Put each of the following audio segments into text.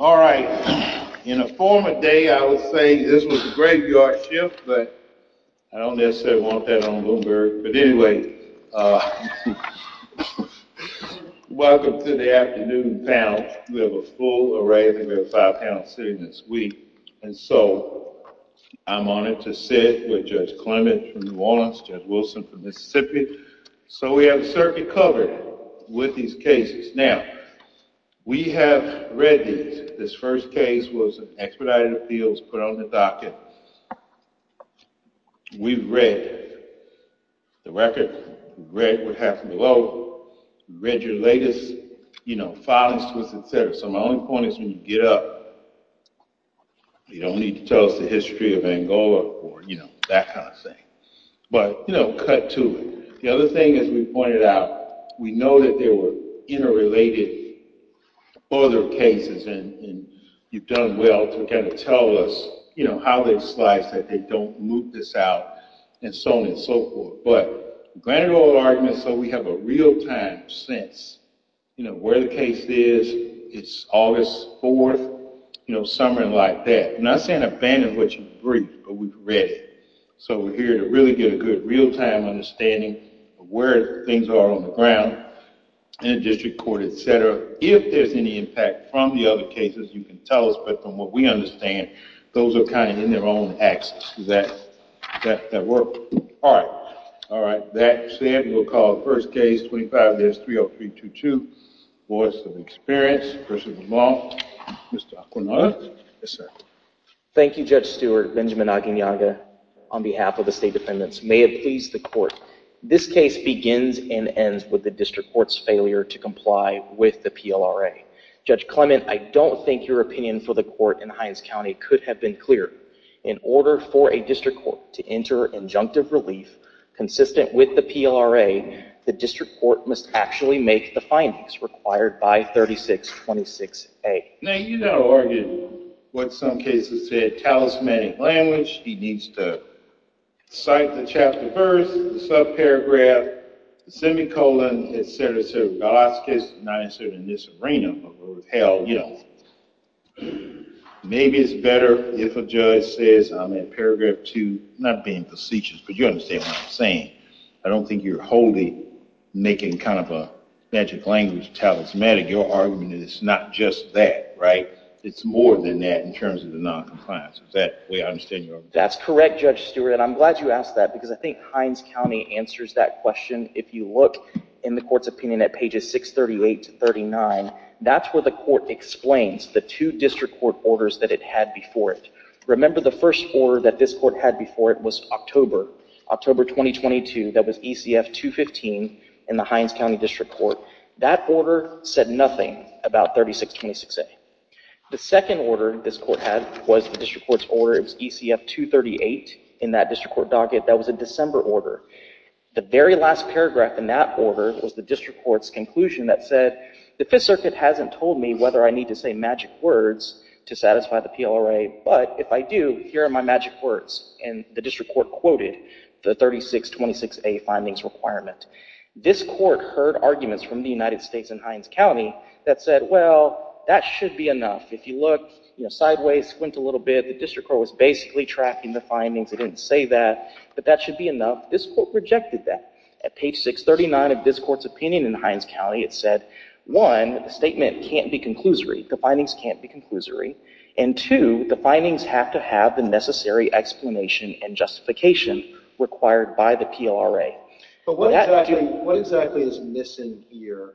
All right. In a former day, I would say this was a graveyard shift, but I don't necessarily want that on Bloomberg. But anyway, welcome to the afternoon panel. We have a full array, and we have five panels sitting this week. And so I'm honored to sit with Judge Clement from New Orleans, Judge Wilson from Mississippi. So we have a circuit covered with these cases. Now, we have read these. This first case was an expedited appeals, put on the docket. We've read the record, read what happened below, read your latest filings to us, et cetera. So my only point is when you get up, you don't need to tell us the history of Angola or that kind of thing. But cut to it. The other thing, as we pointed out, we know that there were interrelated other cases, and you've done well to tell us how they slice, that they don't move this out, and so on and so forth. But granted all arguments, so we have a real-time sense where the case is. It's August 4th, summer and like that. I'm not saying abandon what you've read, but we've read it. So we're here to really get a good real-time understanding of where things are on the ground in a district court, If there's any impact from the other cases, you can tell us. But from what we understand, those are kind of in their own axis that work. All right, that said, we'll call the first case, 25S30322. Voice of experience, person of the law, Mr. Aquinone. Yes, sir. Thank you, Judge Stewart, Benjamin Aguinalda, on behalf of the state defendants. May it please the court. This case begins and ends with the district court's failure to comply with the PLRA. Judge Clement, I don't think your opinion for the court in Hines County could have been clearer. In order for a district court to enter injunctive relief consistent with the PLRA, the district court must actually make the findings required by 3626A. Now, you know, Oregon, what some cases say, a talismanic language. He needs to cite the chapter first, the subparagraph, the semicolon, et cetera, et cetera. Goloskis, not necessarily in this arena, but where it's held, you know. Maybe it's better if a judge says, I'm at paragraph two, not being facetious, but you understand what I'm saying. I don't think you're wholly making kind of a magic language, talismanic. Your argument is it's not just that, right? It's more than that in terms of the noncompliance. Is that the way I understand your argument? That's correct, Judge Stewart. And I'm glad you asked that, because I think Hines County answers that question. If you look in the court's opinion at pages 638 to 39, that's where the court explains the two district court orders that it had before it. Remember, the first order that this court had before it was October, October 2022. That was ECF 215 in the Hines County District Court. That order said nothing about 3626A. The second order this court had was the district court's order. It was ECF 238 in that district court docket. That was a December order. The very last paragraph in that order was the district court's conclusion that said, the Fifth Circuit hasn't told me whether I need to say magic words to satisfy the PLRA. But if I do, here are my magic words. And the district court quoted the 3626A findings requirement. This court heard arguments from the United States and Hines County that said, well, that should be enough. If you look sideways, squint a little bit, the district court was basically tracking the findings. It didn't say that. But that should be enough. This court rejected that. At page 639 of this court's opinion in Hines County, it said, one, the statement can't be conclusory. The findings can't be conclusory. And two, the findings have to have the necessary explanation and justification required by the PLRA. But what exactly is missing here,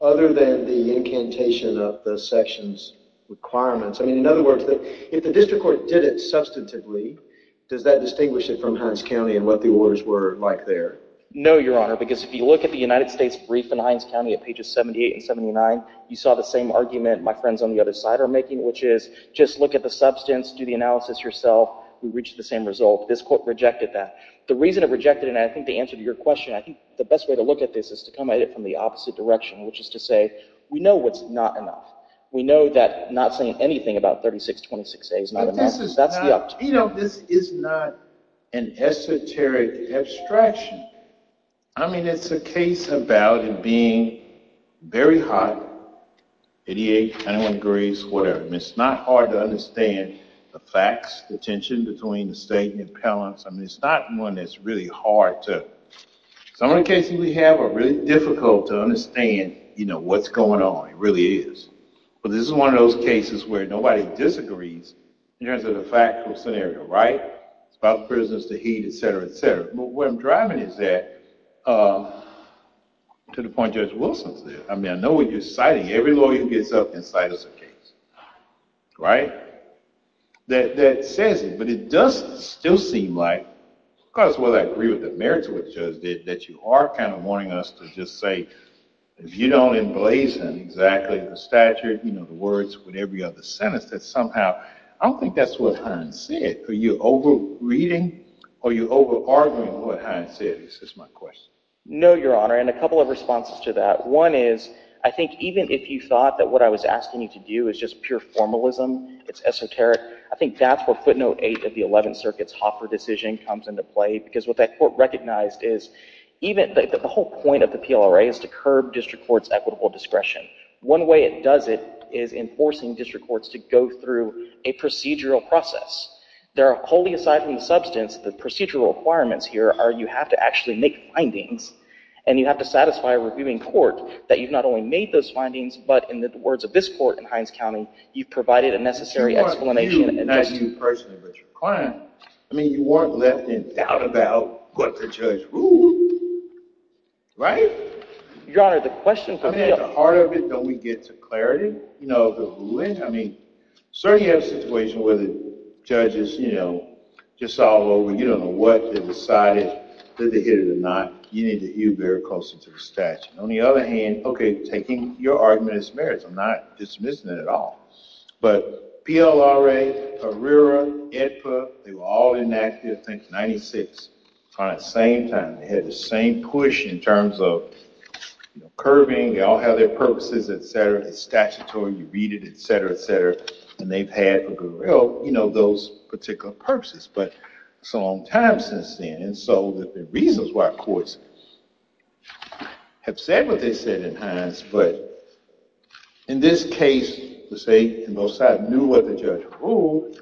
other than the incantation of the section's requirements? I mean, in other words, if the district court did it substantively, does that distinguish it from Hines County and what the orders were like there? No, Your Honor, because if you look at the United States brief in Hines County at pages 78 and 79, you saw the same argument my friends on the other side are making, which is, just look at the substance, do the analysis yourself, we reach the same result. This court rejected that. The reason it rejected it, and I think the answer to your question, I think the best way to look at this is to come at it from the opposite direction, which is to say, we know what's not enough. We know that not saying anything about 3626A is not enough. That's the uptick. You know, this is not an esoteric abstraction. I mean, it's a case about it being very hot, 88, 101 degrees, whatever. It's not hard to understand the facts, the tension between the state and the appellants. I mean, it's not one that's really hard to. Some of the cases we have are really difficult to understand what's going on. It really is. But this is one of those cases where nobody disagrees. Here's the factual scenario, right? It's about the prisoners, the heat, et cetera, et cetera. But what I'm driving is that, to the point Judge Wilson said, I mean, I know what you're citing. Every lawyer who gets up and cites a case, right? That says it. But it does still seem like, of course, whether I agree with the merits of what the judge did, that you are kind of wanting us to just say, if you don't emblazon exactly the statute, the words, whatever you have to sentence, that somehow, I don't think that's what Hines said. Are you over-reading? Are you over-arguing what Hines said, is just my question. No, Your Honor. And a couple of responses to that. One is, I think even if you thought that what I was asking you to do is just pure formalism, it's esoteric, I think that's what note eight of the Eleventh Circuit's Hoffer decision comes into play. Because what that court recognized is, the whole point of the PLRA is to curb district court's equitable discretion. One way it does it is enforcing district courts to go through a procedural process. There are wholly, aside from the substance, the procedural requirements here are you have to actually make findings. And you have to satisfy a reviewing court that you've not only made those findings, but in the words of this court in Hines County, you've provided a necessary explanation. Not to you personally, but to your client. I mean, you weren't left in doubt about what the judge ruled. Right? Your Honor, the question for me is. At the heart of it, don't we get to clarity? You know, the ruling. I mean, certainly you have a situation where the judge is, you know, just all over. You don't know what they decided, did they hit it or not. You need to be very close to the statute. On the other hand, OK, taking your argument as merits, I'm not dismissing it at all. But PLRA, Carrera, AEDPA, they were all enacted, I think, in 96 on the same time. They had the same push in terms of curbing. They all have their purposes, et cetera. It's statutory. You read it, et cetera, et cetera. And they've had, you know, those particular purposes. But it's a long time since then. And so the reasons why courts have said what they said in Hines. But in this case, the state and both sides knew what the judge ruled.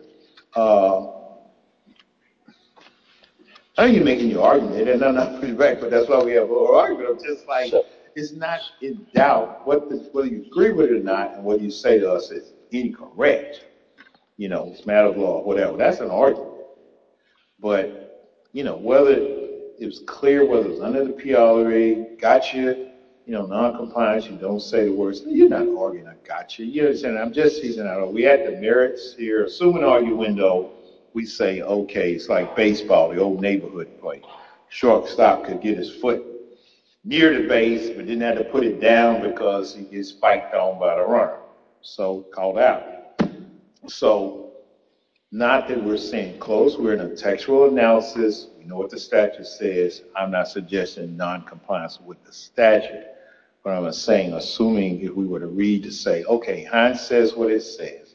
I don't think you're making your argument. And I'm not putting it back. But that's why we have a little argument. I'm just like, it's not in doubt whether you agree with it or not and what you say to us is incorrect. You know, it's a matter of law, whatever. That's an argument. But, you know, whether it's clear, whether it's under the PLRA, gotcha, you know, non-compliance, you don't say the words, you're not arguing a gotcha, you know what I'm saying? I'm just teasing out. We had the merits here. Assuming argument, though, we say, OK, it's like baseball, the old neighborhood play. Shortstop could get his foot near the base but didn't have to put it down because he gets spiked on by the runner. So called out. So not that we're saying close. We're in a textual analysis. We know what the statute says. I'm not suggesting non-compliance with the statute. What I'm saying, assuming if we were to read to say, OK, Heinz says what it says.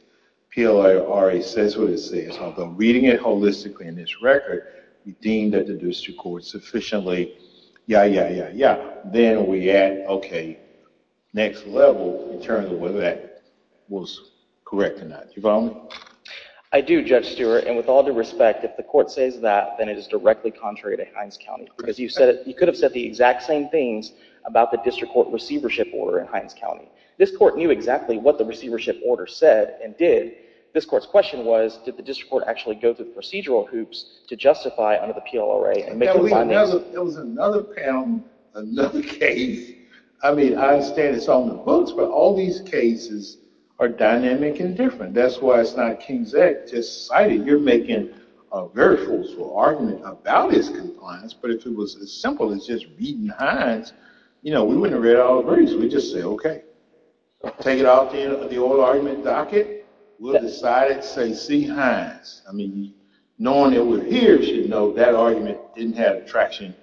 PLRA says what it says. Although reading it holistically in this record, we deem that the district court sufficiently, yeah, yeah, yeah, yeah. Then we add, OK, next level in terms of whether that was correct or not. Do you follow me? I do, Judge Stewart. And with all due respect, if the court says that, then it is directly contrary to Heinz County. Because you could have said the exact same things about the district court receivership order in Heinz County. This court knew exactly what the receivership order said and did. This court's question was, did the district court actually go through the procedural hoops to justify under the PLRA and make the findings? There was another panel, another case. I mean, I understand it's on the books, but all these cases are dynamic and different. That's why it's not King's Act just cited. You're making a very forceful argument about his compliance. But if it was as simple as just reading Heinz, we wouldn't have read all the verdicts. We'd just say, OK, take it out of the oral argument docket. We'll decide it, say, see Heinz. I mean, knowing it was here, you should know that argument didn't have traction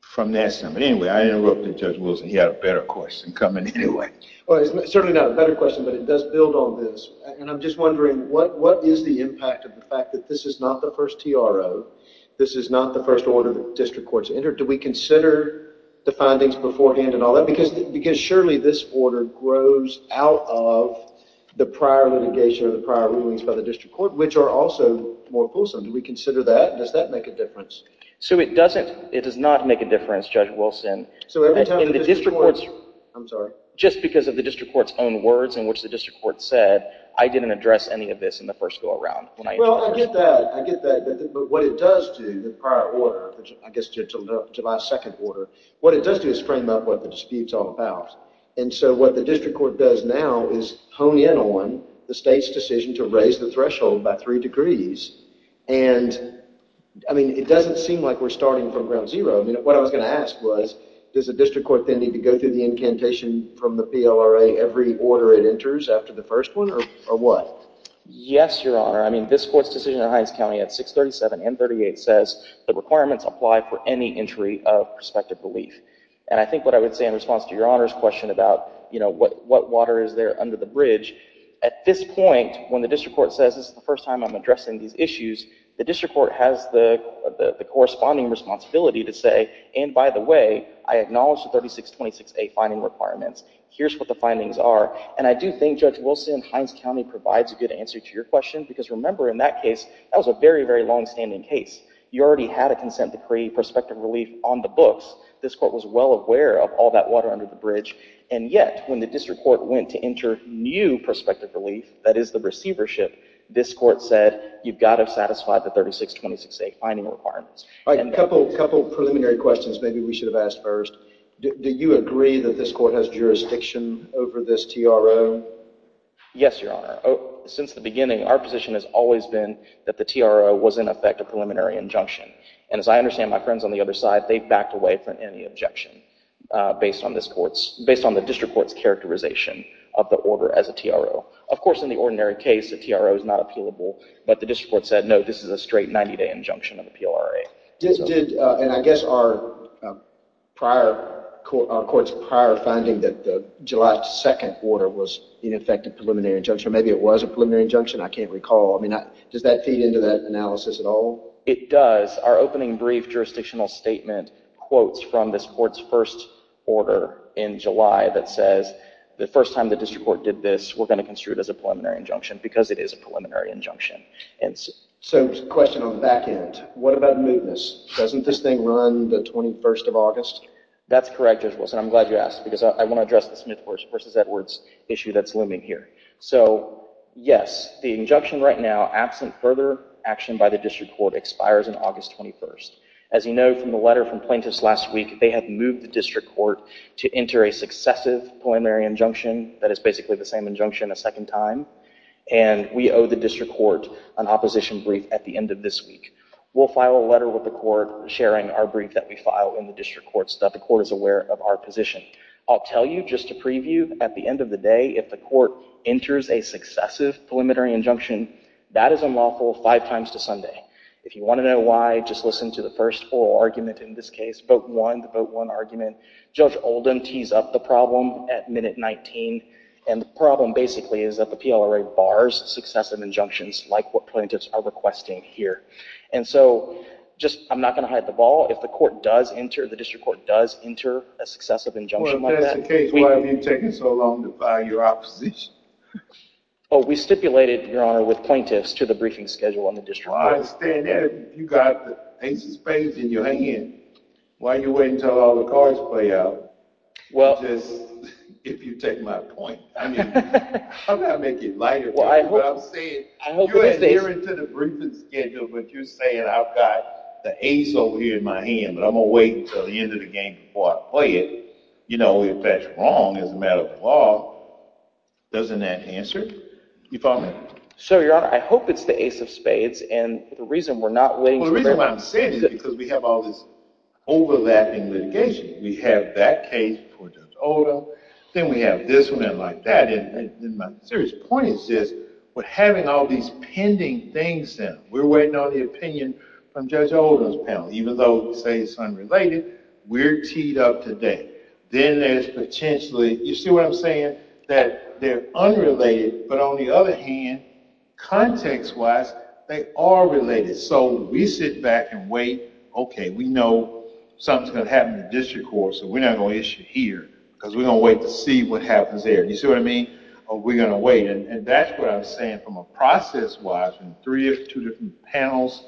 from that summit. Anyway, I interrupted Judge Wilson. He had a better question coming anyway. Well, it's certainly not a better question, but it does build on this. And I'm just wondering, what is the impact of the fact that this is not the first TRO? This is not the first order the district court's entered. Do we consider the findings beforehand and all that? Because surely this order grows out of the prior litigation or the prior rulings by the district court, which are also more fulsome. Do we consider that? Does that make a difference? So it doesn't. It does not make a difference, Judge Wilson. So every time the district court's, I'm sorry. Just because of the district court's own words in which the district court said, I didn't address any of this in the first go around. Well, I get that. I get that. But what it does do, the prior order, I guess to my second order, what it does do is frame up what the dispute's all about. And so what the district court does now is hone in on the state's decision to raise the threshold by three degrees. And I mean, it doesn't seem like we're starting from ground zero. I mean, what I was going to ask was, does the district court then need to go through the incantation from the PLRA every order it enters after the first one, or what? Yes, Your Honor. I mean, this court's decision in Hines County at 637 and 38 says the requirements apply for any entry of prospective relief. And I think what I would say in response to Your Honor's question about what water is there under the bridge, at this point, when the district court says, this is the first time I'm addressing these issues, the district court has the corresponding responsibility to say, and by the way, I acknowledge the 3626A finding requirements. Here's what the findings are. And I do think Judge Wilson, Hines County provides a good answer to your question. Because remember, in that case, that was a very, very longstanding case. You already had a consent decree, prospective relief, on the books. This court was well aware of all that water under the bridge. And yet, when the district court went to enter new prospective relief, that is the receivership, this court said, you've got to satisfy the 3626A finding requirements. All right, a couple preliminary questions maybe we should have asked first. Do you agree that this court has jurisdiction over this TRO? Yes, Your Honor. Since the beginning, our position has always been that the TRO was, in effect, a preliminary injunction. And as I understand, my friends on the other side, they backed away from any objection based on the district court's characterization of the order as a TRO. Of course, in the ordinary case, the TRO is not appealable. But the district court said, no, this is a straight 90-day injunction of the PLRA. And I guess our court's prior finding that the July 2nd order was, in effect, a preliminary injunction, or maybe it was a preliminary injunction, I can't recall. Does that feed into that analysis at all? It does. Our opening brief jurisdictional statement quotes from this court's first order in July that says, the first time the district court did this, we're going to construe it as a preliminary injunction, because it is a preliminary injunction. So a question on the back end. What about mootness? Doesn't this thing run the 21st of August? That's correct, Judge Wilson. I'm glad you asked, because I want to address the Smith v. Edwards issue that's looming here. So yes, the injunction right now, absent further action by the district court, expires on August 21st. As you know from the letter from plaintiffs last week, they had moved the district court to enter a successive preliminary injunction that is basically the same injunction a second time. And we owe the district court an opposition brief at the end of this week. We'll file a letter with the court, sharing our brief that we file in the district court, so that the court is aware of our position. I'll tell you, just to preview, at the end of the day, if the court enters a successive preliminary injunction, that is unlawful five times to Sunday. If you want to know why, just listen to the first oral argument in this case, vote one, the vote one argument. Judge Oldham tees up the problem at minute 19. And the problem, basically, is that the PLRA bars successive injunctions, like what plaintiffs are requesting here. And so, I'm not going to hide the ball. If the court does enter, the district court does enter a successive injunction like that. Well, if that's the case, why have you taken so long to file your opposition? Well, we stipulated, Your Honor, with plaintiffs to the briefing schedule on the district court. Well, I understand that. You've got the ace of spades in your hand. Why are you waiting until all the cards play out? Well. If you take my point. I mean, how do I make it lighter for you? I'm saying, you're adhering to the briefing schedule. But you're saying, I've got the ace over here in my hand. But I'm going to wait until the end of the game before I play it. You know, if that's wrong, as a matter of law, doesn't that answer? You follow me? So, Your Honor, I hope it's the ace of spades. And the reason we're not waiting for very long. Well, the reason why I'm saying it is because we have all this overlapping litigation. We have that case for Judge Oldham. Then we have this one and like that. My serious point is this. We're having all these pending things now. We're waiting on the opinion from Judge Oldham's panel. Even though we say it's unrelated, we're teed up today. Then there's potentially, you see what I'm saying? That they're unrelated. But on the other hand, context-wise, they are related. So we sit back and wait. OK, we know something's going to happen in the district court. So we're not going to issue here. Because we're going to wait to see what happens there. You see what I mean? We're going to wait. And that's what I'm saying from a process-wise, in three or two different panels.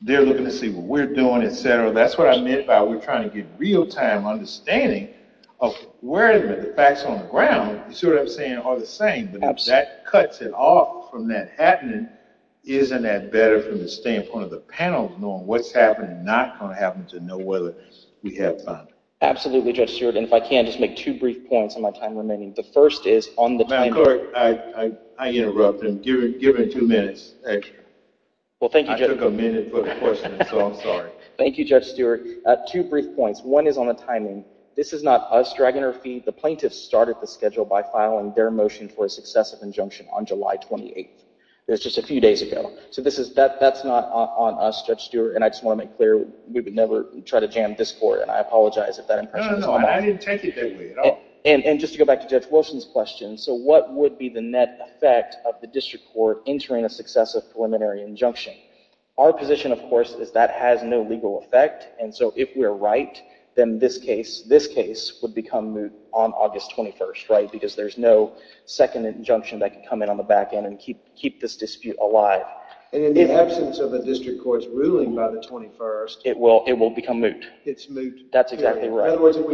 They're looking to see what we're doing, et cetera. That's what I meant by we're trying to get real-time understanding of where the facts on the ground, you see what I'm saying, are the same. But if that cuts it off from that happening, isn't that better from the standpoint of the panel knowing what's happening and not going to happen to know whether we have found it? Absolutely, Judge Stewart. And if I can, just make two brief points on my time remaining. The first is on the timing. Ma'am, court, I interrupted him. Give him two minutes extra. Well, thank you, Judge. I took a minute for the question, so I'm sorry. Thank you, Judge Stewart. Two brief points. One is on the timing. This is not us dragging our feet. The plaintiffs started the schedule by filing their motion for a successive injunction on July 28th. It was just a few days ago. So that's not on us, Judge Stewart. And I just want to make clear, we would never try to jam this court. And I apologize if that impression is on us. No, no, no, I didn't take it that way at all. And just to go back to Judge Wilson's question, so what would be the net effect of the district court entering a successive preliminary injunction? Our position, of course, is that has no legal effect. And so if we're right, then this case would become moot on August 21st, right? Because there's no second injunction that can come in on the back end and keep this dispute alive. And in the absence of a district court's ruling by the 21st. It will become moot. It's moot. That's exactly right. In other words, if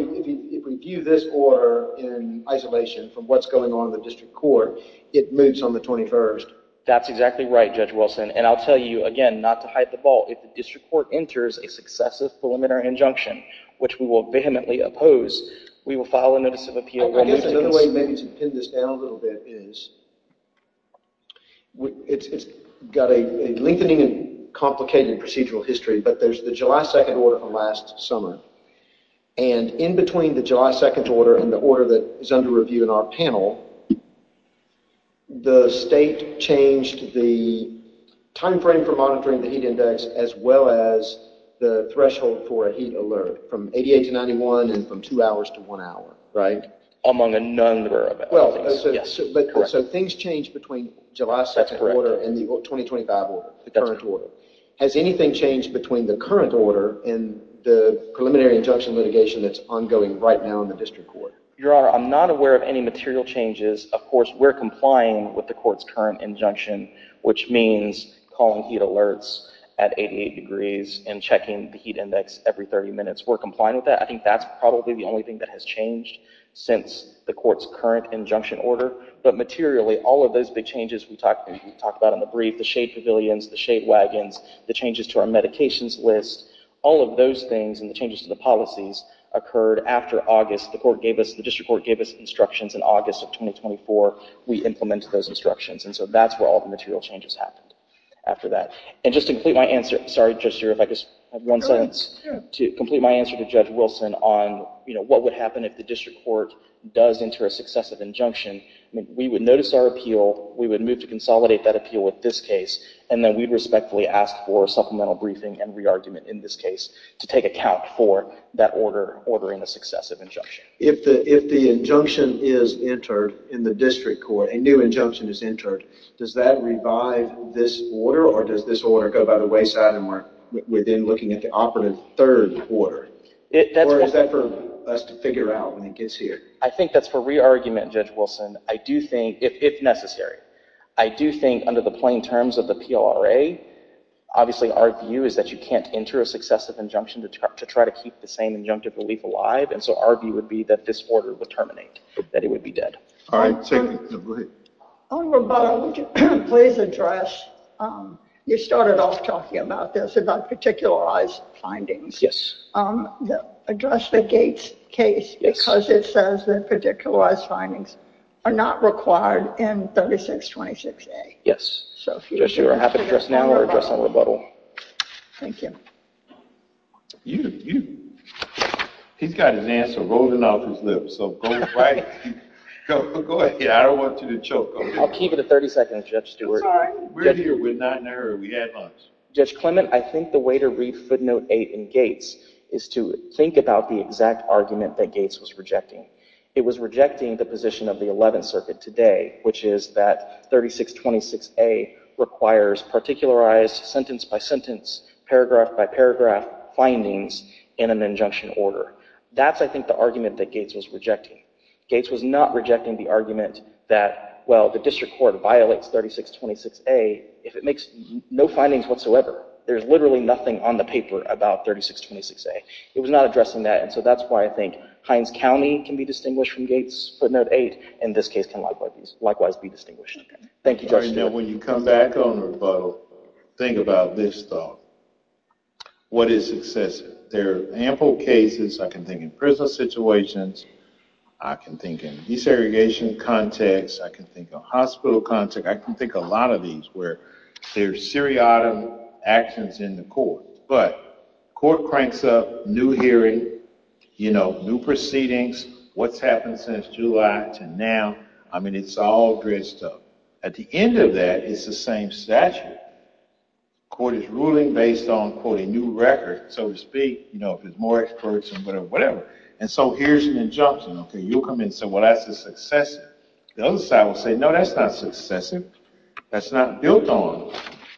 we view this order in isolation from what's going on in the district court, it moots on the 21st. That's exactly right, Judge Wilson. And I'll tell you again, not to hide the ball, if the district court enters a successive preliminary injunction, which we will vehemently oppose, we will file a notice of appeal. I guess another way maybe to pin this down a little bit is, it's got a lengthening and complicated procedural history. But there's the July 2nd order from last summer. And in between the July 2nd order and the order that is under review in our panel, the state changed the time frame for monitoring the heat index as well as the threshold for a heat alert from 88 to 91 and from two hours to one hour. Among a number of it. Well, so things change between July 2nd order and the 2025 order, the current order. Has anything changed between the current order and the preliminary injunction litigation that's ongoing right now in the district court? Your Honor, I'm not aware of any material changes. Of course, we're complying with the court's current injunction, which means calling heat alerts at 88 degrees and checking the heat index every 30 minutes. We're complying with that. I think that's probably the only thing that has changed since the court's current injunction order. But materially, all of those big changes we talked about in the brief, the shade pavilions, the shade wagons, the changes to our medications list, all of those things and the changes to the policies occurred after August. The court gave us, the district court gave us instructions in August of 2024. We implemented those instructions. And so that's where all the material changes happened after that. And just to complete my answer, sorry, Judge Shura, if I just have one sentence to complete my answer to Judge Wilson on what would happen if the district court does enter a successive injunction. I mean, we would notice our appeal. We would move to consolidate that appeal with this case. And then we'd respectfully ask for a supplemental briefing and re-argument in this case to take account for that order ordering a successive injunction. If the injunction is entered in the district court, a new injunction is entered, does that revive this order? Or does this order go by the wayside and we're then looking at the operative third order? Or is that for us to figure out when it gets here? I think that's for re-argument, Judge Wilson, if necessary. I do think under the plain terms of the PLRA, obviously our view is that you can't enter a successive injunction to try to keep the same injunctive relief alive. And so our view would be that this order would terminate, that it would be dead. All right, take it, go ahead. On Roboto, would you please address, you started off talking about this, about particularized findings. Yes. Address the Gates case because it says that particularized findings are not required in 3626A. Judge, you are happy to address now or address on Roboto? Thank you. You, you. He's got his answer rolling off his lips. So go right, go ahead. I don't want you to choke on it. I'll keep it at 30 seconds, Judge Stewart. I'm sorry. We're here, we're not in a hurry, we have lunch. Judge Clement, I think the way to read footnote 8 in Gates is to think about the exact argument that Gates was rejecting. It was rejecting the position of the 11th Circuit today, which is that 3626A requires particularized sentence by sentence, paragraph by paragraph findings in an injunction order. That's, I think, the argument that Gates was rejecting. Gates was not rejecting the argument that, well, the district court violates 3626A if it makes no findings whatsoever. There's literally nothing on the paper about 3626A. It was not addressing that. And so that's why I think Hines County can be distinguished from Gates footnote 8, and this case can likewise be distinguished. Thank you, Judge Stewart. When you come back on rebuttal, think about this thought. What is excessive? There are ample cases, I can think in prison situations, I can think in desegregation context, I can think of hospital context, I can think a lot of these where there's seriatim actions in the court. But court cranks up, new hearing, new proceedings, what's happened since July to now. I mean, it's all good stuff. At the end of that, it's the same statute. Court is ruling based on, quote, a new record, so to speak. You know, if there's more experts or whatever. And so here's an injunction. OK, you'll come in and say, well, that's excessive. The other side will say, no, that's not excessive. That's not built on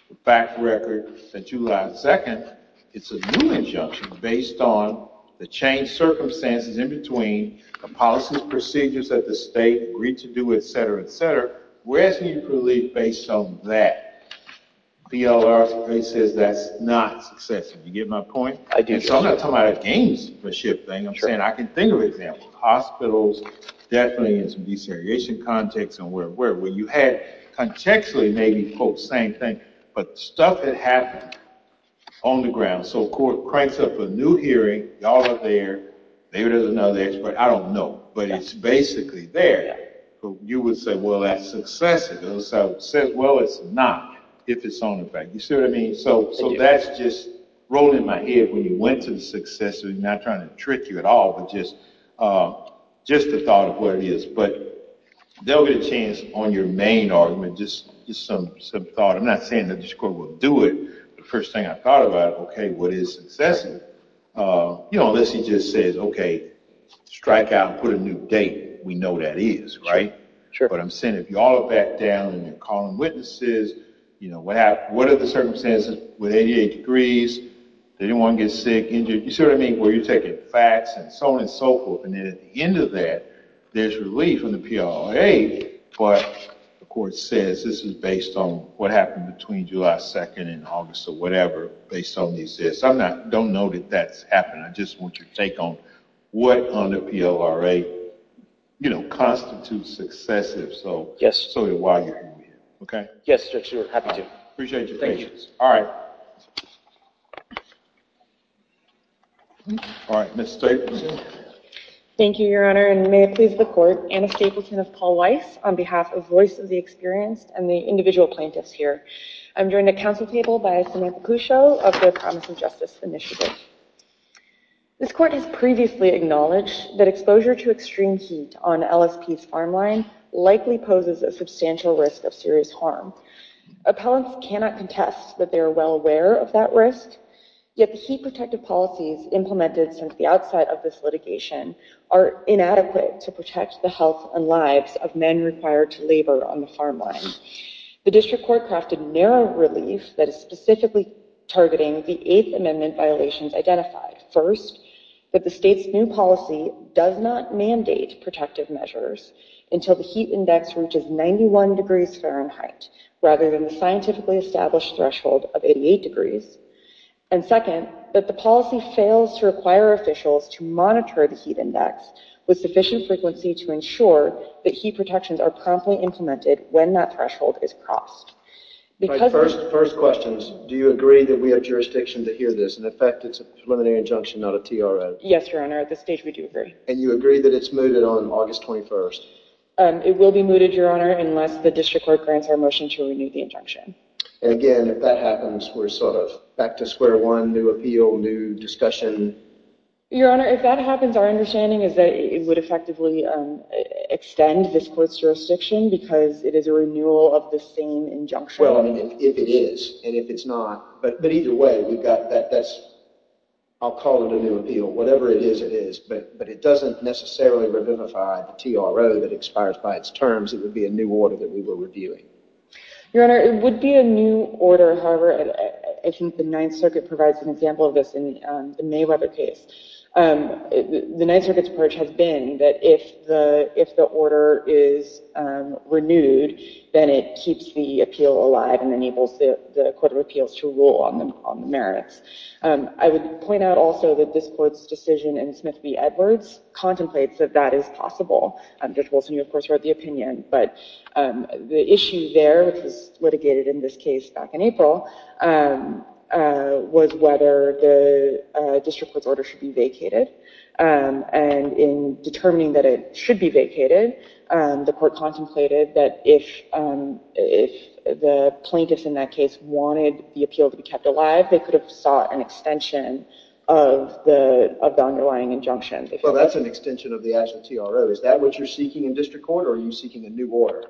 the fact record that July 2nd. It's a new injunction based on the changed circumstances in between, the policies and procedures that the state agreed to do, et cetera, et cetera. We're asking you for relief based on that. BLR says that's not excessive. You get my point? I do. So I'm not talking about a gamesmanship thing. I'm saying I can think of examples. Hospitals, definitely in some desegregation context, and where you had, contextually, maybe, quote, same thing. But stuff had happened on the ground. So court cranks up a new hearing, y'all are there, maybe there's another expert, I don't know. But it's basically there. You would say, well, that's excessive. The other side would say, well, it's not, if it's on the fact. You see what I mean? So that's just rolling in my head when you went to the successive. I'm not trying to trick you at all, but just the thought of what it is. But there will be a chance on your main argument, just some thought. I'm not saying that this court will do it. The first thing I thought about, OK, what is excessive? Unless he just says, OK, strike out and put a new date. We know that is, right? But I'm saying, if you all look back down and you're calling witnesses, what are the circumstances with 88 degrees? Did anyone get sick, injured? You see what I mean? Were you taking facts, and so on and so forth? And then at the end of that, there's relief from the PLOA. But the court says, this is based on what happened between July 2 and August, or whatever, based on these tests. I don't know that that's happened. I just want your take on what on the PLOA constitutes excessive, so to why you're moving it, OK? Yes, Judge, we're happy to. Appreciate your patience. All right. All right, Ms. Stapleton. Thank you, Your Honor. And may it please the court, Anna Stapleton of Paul Weiss on behalf of Voice of the Experienced and the individual plaintiffs here. I'm joined at council table by Samantha Cuscio of the Promise of Justice Initiative. This court has previously acknowledged that exposure to extreme heat on LSP's farm line likely poses a substantial risk of serious harm. Appellants cannot contest that they are well aware of that risk, yet the heat protective policies implemented since the outside of this litigation are inadequate to protect the health and lives of men required to labor on the farm line. The district court crafted narrow relief that is specifically targeting the Eighth Amendment violations identified. First, that the state's new policy does not mandate protective measures until the heat index reaches 91 degrees Fahrenheit, rather than the scientifically established threshold of 88 degrees. And second, that the policy fails to require officials to monitor the heat index with sufficient frequency to ensure that heat protections are promptly implemented when that threshold is crossed. All right, first questions. Do you agree that we have jurisdiction to hear this? And in fact, it's a preliminary injunction, not a TRO. Yes, Your Honor. At this stage, we do agree. And you agree that it's mooted on August 21st? It will be mooted, Your Honor, unless the district court grants our motion to renew the injunction. And again, if that happens, we're sort of back to square one, new appeal, new discussion. Your Honor, if that happens, our understanding is that it would effectively extend this court's jurisdiction, because it is a renewal of the same injunction. Well, I mean, if it is, and if it's not. But either way, we've got that. I'll call it a new appeal. Whatever it is, it is. But it doesn't necessarily revivify the TRO that expires by its terms. It would be a new order that we were reviewing. Your Honor, it would be a new order. However, I think the Ninth Circuit provides an example of this in the Mayweather case. The Ninth Circuit's approach has been that if the order is renewed, then it keeps the appeal alive and enables the Court of Appeals to rule on the merits. I would point out also that this court's decision in Smith v. Edwards contemplates that that is possible. Judge Wilson, you, of course, wrote the opinion. But the issue there, which was litigated in this case back in April, was whether the district court's order should be vacated. And in determining that it should be vacated, the court contemplated that if the plaintiffs in that case wanted the appeal to be kept alive, they could have sought an extension of the underlying injunction. Well, that's an extension of the actual TRO. Is that what you're seeking in district court? Or are you seeking a new order?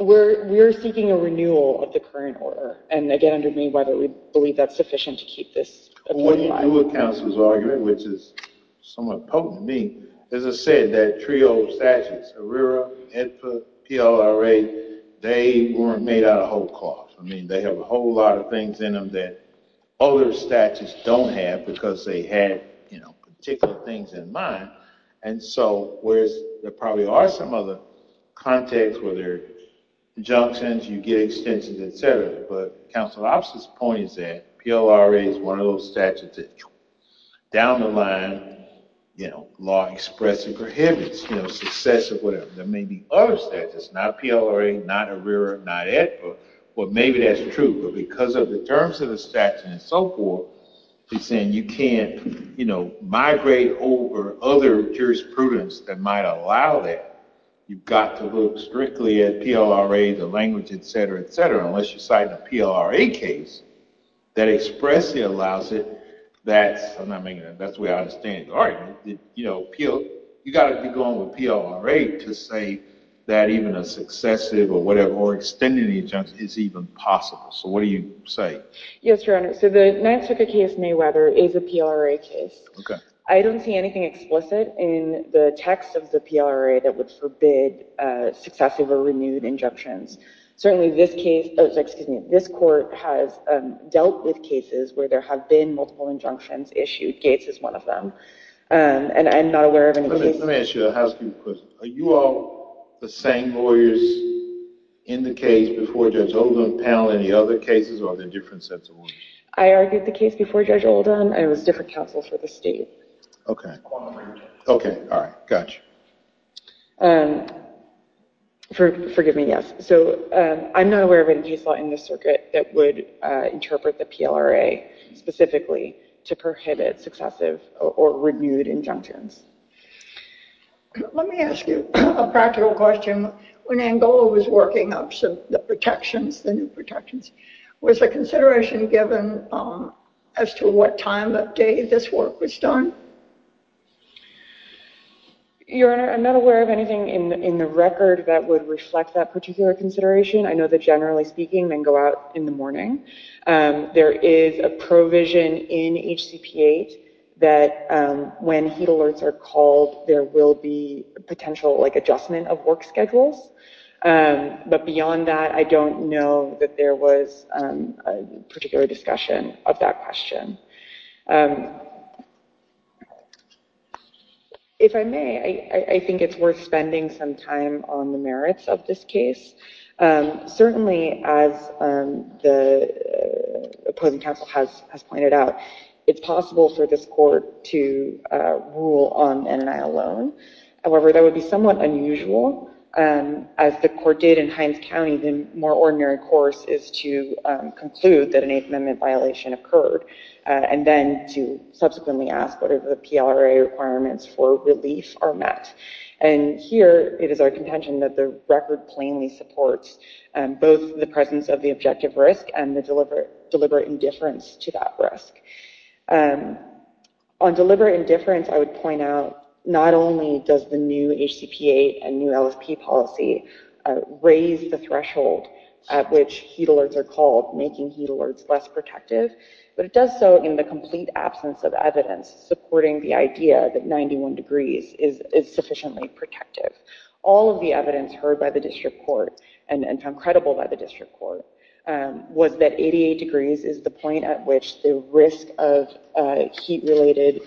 We're seeking a renewal of the current order. And again, under Mayweather, we believe that's sufficient to keep this appeal alive. Well, what do you do with counsel's argument, which is somewhat potent to me? As I said, that TRIO statute, ARERA, HEDPA, PLRA, they weren't made out of whole cloth. I mean, they have a whole lot of things in them that other statutes don't have because they had particular things in mind. And so whereas there probably are some other contexts where there are injunctions, you get extensions, et cetera. But counsel's point is that PLRA is one of those statutes that down the line, law expressly prohibits success or whatever. There may be other statutes, not PLRA, not ARERA, not HEDPA. Well, maybe that's true. But because of the terms of the statute and so forth, he's saying you can't migrate over other jurisprudence that might allow that. You've got to look strictly at PLRA, the language, et cetera, et cetera, unless you cite a PLRA case. That expressly allows it, that's the way I understand it. All right. You've got to be going with PLRA to say that even a successive or whatever, or extending the injunction, is even possible. So what do you say? Yes, Your Honor. So the Nantucket case, Mayweather, is a PLRA case. I don't see anything explicit in the text of the PLRA that would forbid successive or renewed injunctions. Certainly this case, excuse me, this court has dealt with cases where there have been multiple injunctions issued. Gates is one of them. And I'm not aware of any cases. Let me ask you a housekeeping question. Are you all the same lawyers in the case before Judge Oldham, Powell, any other cases? Or are there different sets of lawyers? I argued the case before Judge Oldham. I was different counsel for the state. OK. OK, all right. Gotcha. Forgive me, yes. So I'm not aware of any case law in this circuit that would interpret the PLRA specifically to prohibit successive or renewed injunctions. Let me ask you a practical question. When Angola was working up the protections, the new protections, was the consideration given as to what time of day this work was done? Your Honor, I'm not aware of anything in the record that would reflect that particular consideration. I know that, generally speaking, men go out in the morning. There is a provision in HCP8 that when heat alerts are called, there will be potential adjustment of work schedules. But beyond that, I don't know that there was a particular discussion of that question. If I may, I think it's worth spending some time on the merits of this case. Certainly, as the opposing counsel has pointed out, it's possible for this court to rule on NNI alone. However, that would be somewhat unusual. As the court did in Hines County, the more ordinary course is to conclude that an Eighth Amendment violation occurred, and then to subsequently ask whether the PLRA requirements for relief are met. And here, it is our contention that the record plainly supports both the presence of the objective risk and the deliberate indifference to that risk. On deliberate indifference, I would point out, not only does the new HCP8 and new LFP policy raise the threshold at which heat alerts are called, making heat alerts less protective, but it does so in the complete absence of evidence supporting the idea that 91 degrees is sufficiently protective. All of the evidence heard by the district court and found credible by the district court was that 88 degrees is the point at which the risk of heat-related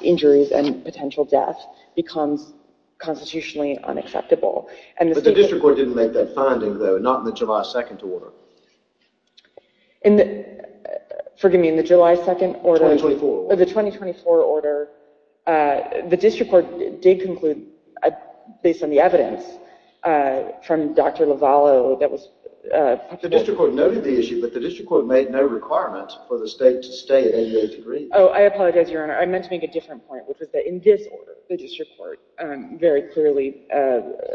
injuries and potential death becomes constitutionally unacceptable. But the district court didn't make that finding, though, not in the July 2nd order. In the...forgive me, in the July 2nd order... Oh, the 2024 order, the district court did conclude, based on the evidence from Dr Lovallo, that was... The district court noted the issue, but the district court made no requirement for the state to stay at 88 degrees. Oh, I apologise, Your Honour. I meant to make a different point, which was that in this order, the district court very clearly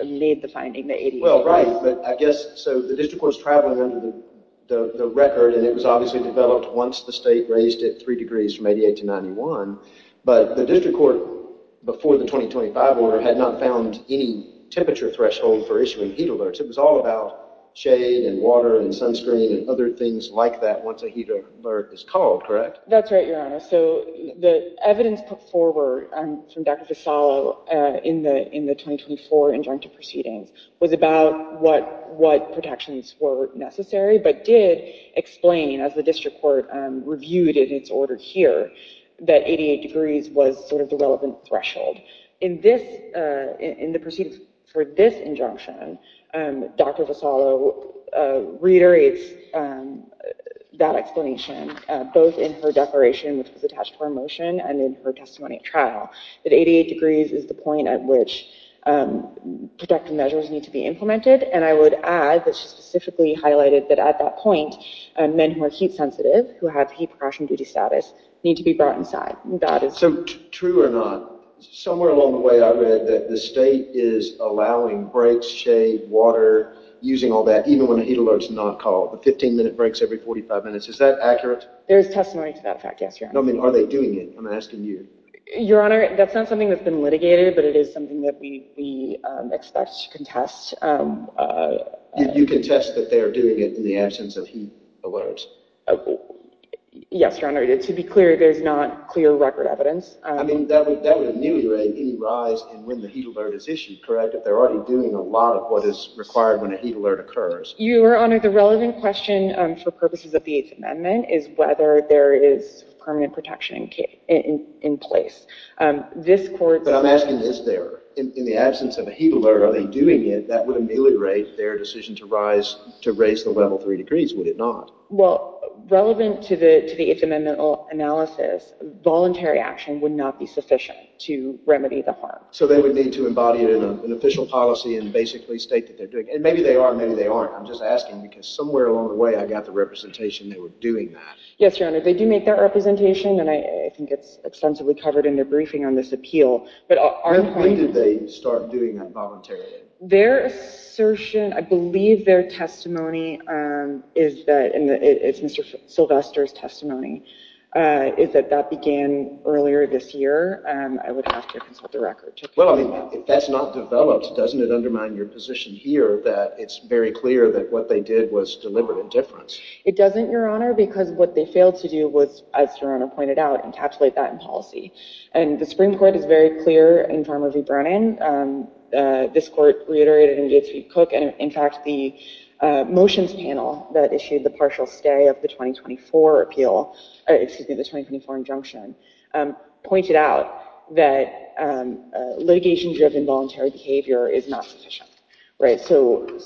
made the finding that 88 degrees... Well, right, but I guess... ..was travelling under the record, and it was obviously developed once the state raised it three degrees from 88 to 91, but the district court, before the 2025 order, had not found any temperature threshold for issuing heat alerts. It was all about shade and water and sunscreen and other things like that once a heat alert is called, correct? That's right, Your Honour. So the evidence put forward from Dr Lovallo in the 2024 injunctive proceedings was about what protections were necessary, but did explain, as the district court reviewed in its order here, that 88 degrees was sort of the relevant threshold. In the proceedings for this injunction, Dr Lovallo reiterates that explanation, both in her declaration, which was attached to her motion, and in her testimony at trial, that 88 degrees is the point at which protective measures need to be implemented, and I would add that she specifically highlighted that at that point, men who are heat-sensitive, who have heat-precaution-duty status, need to be brought inside. That is... So, true or not, somewhere along the way, I read that the state is allowing breaks, shade, water, using all that, even when a heat alert's not called. A 15-minute break's every 45 minutes. Is that accurate? There's testimony to that fact, yes, Your Honour. No, I mean, are they doing it? I'm asking you. Your Honour, that's not something that's been litigated, but it is something that we expect to contest. You contest that they're doing it in the absence of heat alerts? Yes, Your Honour. To be clear, there's not clear record evidence. I mean, that would ameliorate any rise in when the heat alert is issued, correct? If they're already doing a lot of what is required when a heat alert occurs. Your Honour, the relevant question, for purposes of the Eighth Amendment, is whether there is permanent protection in place. But I'm asking, is there? In the absence of a heat alert, are they doing it? That would ameliorate their decision to raise the level three degrees, would it not? Well, relevant to the Eighth Amendment analysis, voluntary action would not be sufficient to remedy the harm. So they would need to embody it in an official policy and basically state that they're doing it. And maybe they are, maybe they aren't. I'm just asking, because somewhere along the way, I got the representation they were doing that. Yes, Your Honour, they do make that representation, and I think it's extensively covered in their briefing on this appeal. But our point is... When did they start doing that voluntary action? Their assertion, I believe their testimony is that, and it's Mr. Sylvester's testimony, is that that began earlier this year. I would have to consult the record. Well, I mean, if that's not developed, doesn't it undermine your position here that it's very clear that what they did was deliberate indifference? It doesn't, Your Honour, because what they failed to do was, as Your Honour pointed out, encapsulate that in policy. And the Supreme Court is very clear in Farmer v. Brennan. This court reiterated in Gates v. Cook, and in fact, the motions panel that issued the partial stay of the 2024 appeal, excuse me, the 2024 injunction, pointed out that litigation-driven voluntary behavior is not sufficient. Right, so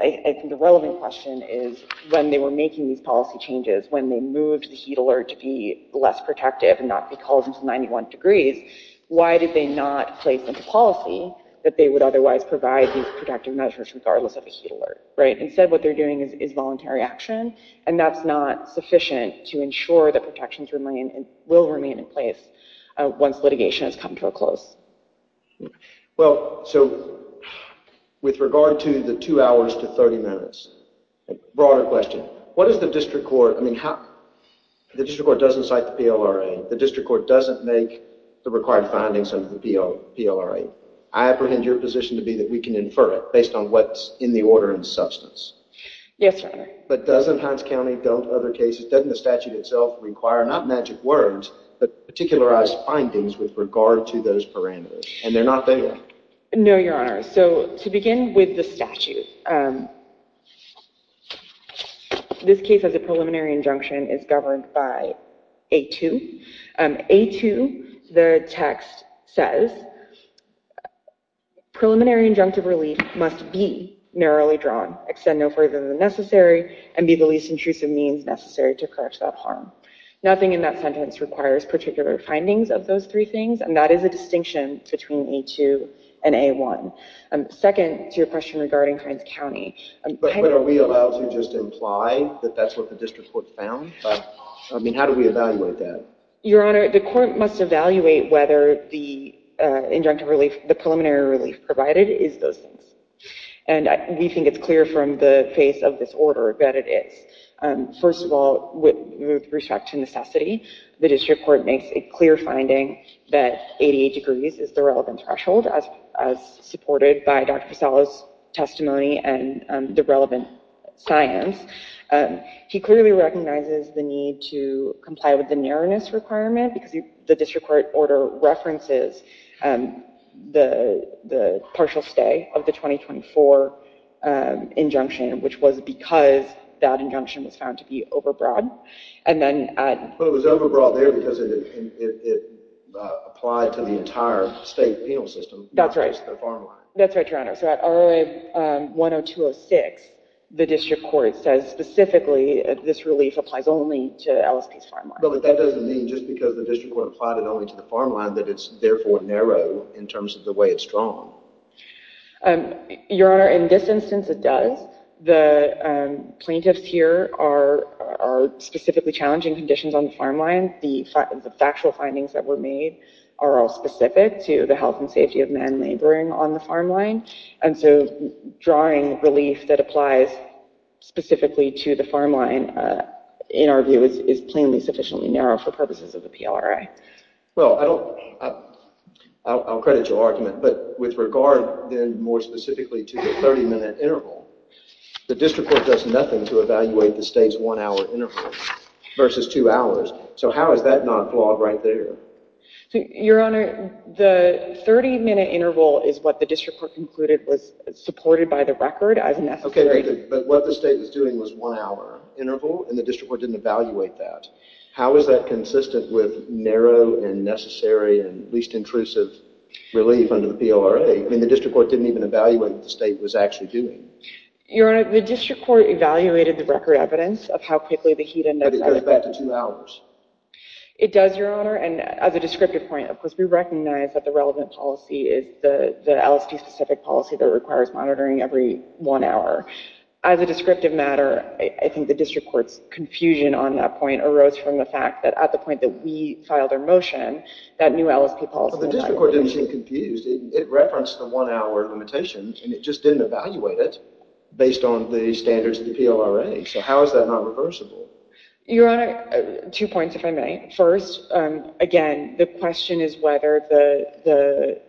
I think the relevant question is when they were making these policy changes, when they moved the heat alert to be less protective and not be called into 91 degrees, why did they not place into policy that they would otherwise provide these protective measures regardless of the heat alert, right? Instead, what they're doing is voluntary action, and that's not sufficient to ensure that protections will remain in place once litigation has come to a close. Well, so with regard to the two hours to 30 minutes, broader question, what does the district court... The district court doesn't cite the PLRA. The district court doesn't make the required findings under the PLRA. I apprehend your position to be that we can infer it based on what's in the order and substance. Yes, Your Honour. But doesn't Hines County, don't other cases, doesn't the statute itself require not magic words, but particularized findings with regard to those parameters? And they're not there. No, Your Honour. So to begin with the statute, this case has a preliminary injunction, is governed by A2. A2, the text says, preliminary injunctive relief must be narrowly drawn, extend no further than necessary, and be the least intrusive means necessary to correct that harm. Nothing in that sentence requires particular findings of those three things, and that is a distinction between A2 and A1. Second to your question regarding Hines County, But are we allowed to just imply that that's what the district court found? I mean, how do we evaluate that? Your Honour, the court must evaluate whether the injunctive relief, the preliminary relief provided is those things. And we think it's clear from the face of this order that it is. First of all, with respect to necessity, the district court makes a clear finding that 88 degrees is the relevant threshold, as supported by Dr. Pesallo's testimony and the relevant science. He clearly recognizes the need to comply with the narrowness requirement, because the district court order references the partial stay of the 2024 injunction, which was because that injunction was found to be overbroad. And then- But it was overbroad there because it applied to the entire state penal system. That's right. That's right, Your Honour. So at ROA 10206, the district court says specifically that this relief applies only to LSP's farm line. But that doesn't mean just because the district court applied it only to the farm line that it's therefore narrow in terms of the way it's drawn. Your Honour, in this instance it does. The plaintiffs here are specifically challenging conditions on the farm line. The factual findings that were made are all specific to the health and safety of men labouring on the farm line. And so drawing relief that applies specifically to the farm line, in our view, is plainly sufficiently narrow for purposes of the PLRA. Well, I don't... I'll credit your argument, but with regard then more specifically to the 30-minute interval, the district court does nothing to evaluate the state's one-hour interval versus two hours. So how is that not flawed right there? Your Honour, the 30-minute interval is what the district court concluded was supported by the record as necessary. But what the state was doing was one-hour interval, and the district court didn't evaluate that. How is that consistent with narrow and necessary and least intrusive relief under the PLRA? I mean, the district court didn't even evaluate what the state was actually doing. Your Honour, the district court evaluated the record evidence of how quickly the heat ended up... But it goes back to two hours. It does, Your Honour, and as a descriptive point, of course, we recognize that the relevant policy is the LSD-specific policy that requires monitoring every one hour. As a descriptive matter, I think the district court's confusion on that point arose from the fact that at the point that we filed our motion, that new LSD policy... But the district court didn't seem confused. It referenced the one-hour limitations, and it just didn't evaluate it based on the standards of the PLRA. So how is that not reversible? Your Honour, two points, if I may. First, again, the question is whether the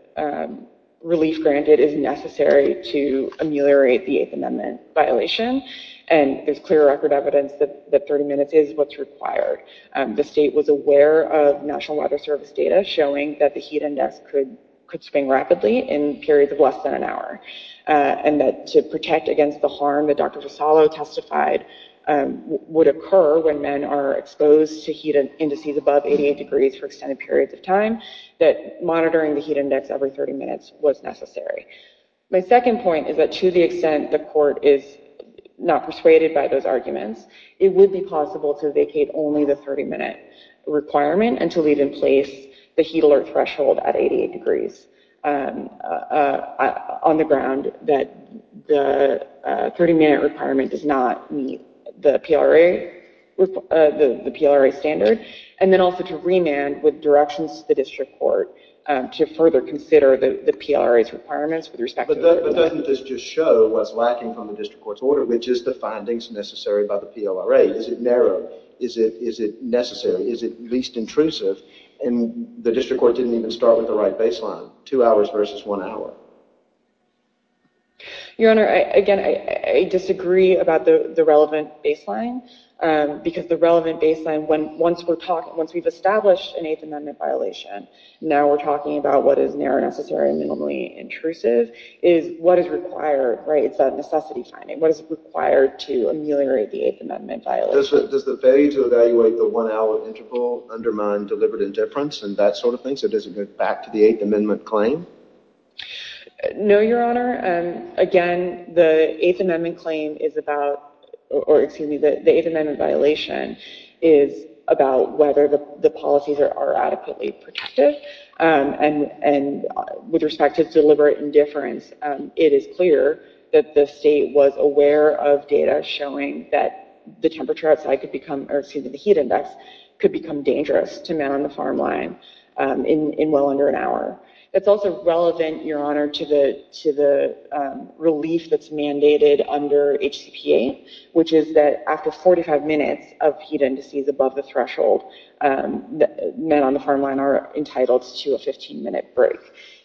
relief granted is necessary to ameliorate the Eighth Amendment violation. And there's clear record evidence that 30 minutes is what's required. The state was aware of National Weather Service data showing that the heat index could spring rapidly in periods of less than an hour, and that to protect against the harm that Dr. Fasalo testified would occur when men are exposed to heat indices above 88 degrees for extended periods of time, that monitoring the heat index every 30 minutes was necessary. My second point is that to the extent the court is not persuaded by those arguments, it would be possible to vacate only the 30-minute requirement and to leave in place the heat alert threshold at 88 degrees on the ground that the 30-minute requirement does not meet the PLRA standard, and then also to remand with directions to the district court to further consider the PLRA's requirements with respect to... But doesn't this just show what's lacking from the district court's order, which is the findings necessary by the PLRA? Is it narrow? Is it necessary? Is it least intrusive? And the district court didn't even start with the right baseline, two hours versus one hour. Your Honor, again, I disagree about the relevant baseline, because the relevant baseline, once we've established an Eighth Amendment violation, now we're talking about what is narrow, necessary, and minimally intrusive, is what is required, right? It's that necessity finding. What is required to ameliorate the Eighth Amendment violation? Does the failure to evaluate the one-hour interval undermine deliberate indifference and that sort of thing? So does it go back to the Eighth Amendment claim? No, Your Honor. Again, the Eighth Amendment claim is about... Or, excuse me, the Eighth Amendment violation is about whether the policies are adequately protected, and with respect to deliberate indifference, it is clear that the state was aware of data showing that the temperature outside could become... Or, excuse me, the heat index could become dangerous to men on the farm line in well under an hour. It's also relevant, Your Honor, to the relief that's mandated under HCPA, which is that after 45 minutes of heat indices above the threshold, men on the farm line are entitled to a 15-minute break.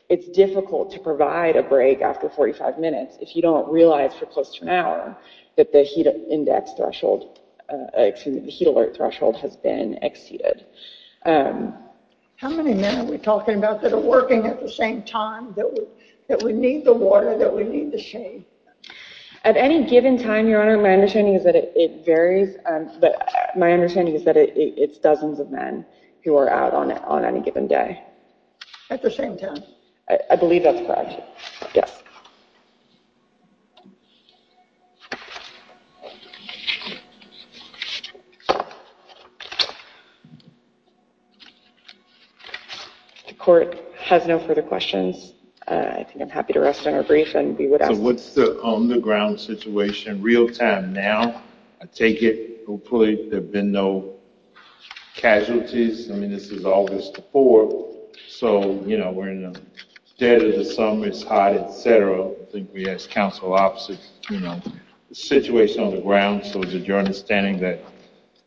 It's difficult to provide a break after 45 minutes if you don't realize for close to an hour that the heat alert threshold has been exceeded. How many men are we talking about that are working at the same time, that we need the water, that we need the shade? At any given time, Your Honor, my understanding is that it varies, but my understanding is that it's dozens of men who are out on any given day. At the same time. I believe that's correct, yes. The court has no further questions. I think I'm happy to rest on our brief, and we would ask... So what's the on-the-ground situation real-time now? I take it, hopefully, there have been no casualties. This is August the 4th, so we're in the dead of the summer. It's hot, et cetera. I think we asked counsel opposite. The situation on the ground, so is it your understanding that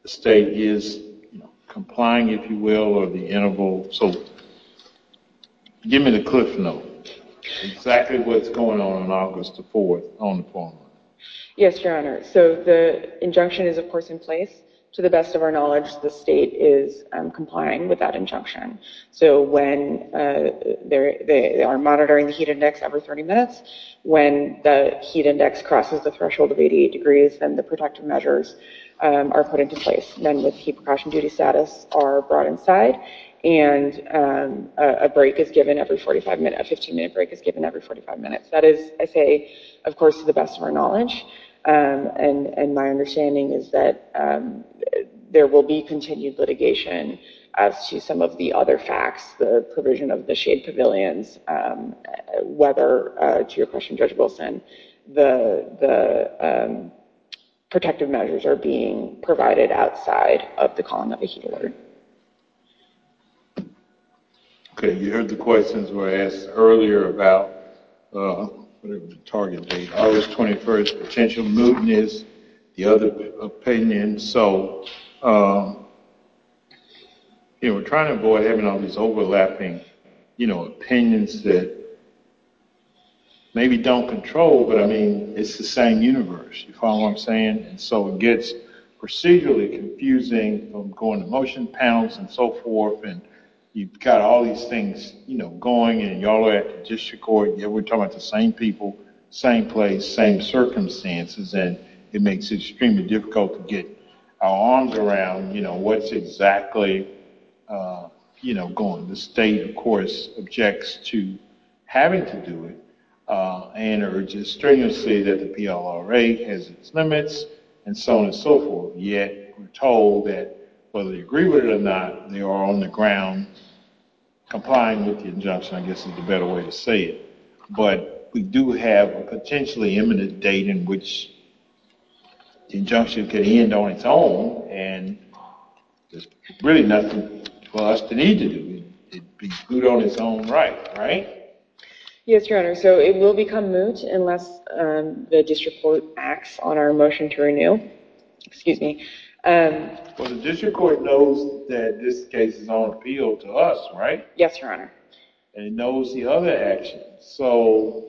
the state is complying, if you will, or the interval? So give me the cliff note. Exactly what's going on on August the 4th on the farm line? Yes, Your Honor. So the injunction is, of course, in place. To the best of our knowledge, the state is complying with that injunction. So when they are monitoring the heat index every 30 minutes, when the heat index crosses the threshold of 88 degrees, then the protective measures are put into place. Men with heat precaution duty status are brought inside, and a break is given every 45 minutes. A 15-minute break is given every 45 minutes. That is, I say, of course, to the best of our knowledge. And my understanding is that there will be continued litigation as to some of the other facts, the provision of the shade pavilions, whether, to your question, Judge Wilson, the protective measures are being provided outside of the column of the heat alert. OK, you heard the questions were asked earlier about the target August 21st potential movement is the other opinion. So we're trying to avoid having all these overlapping opinions that maybe don't control. But I mean, it's the same universe. You follow what I'm saying? And so it gets procedurally confusing from going to motion panels and so forth. And you've got all these things going, and y'all are at the district court, and we're talking to the same people, same place, same circumstances. And it makes it extremely difficult to get our arms around what's exactly going. The state, of course, objects to having to do it, and urges stringency that the PLRA has its limits, and so on and so forth. Yet we're told that, whether they agree with it or not, they are on the ground complying with the injunction, I guess is the better way to say it. But we do have a potentially imminent date in which the injunction could end on its own, and there's really nothing for us to need to do. It'd be good on its own right, right? Yes, Your Honor. So it will become moot unless the district court acts on our motion to renew. Excuse me. Well, the district court knows that this case is on appeal to us, right? Yes, Your Honor. And it knows the other actions. So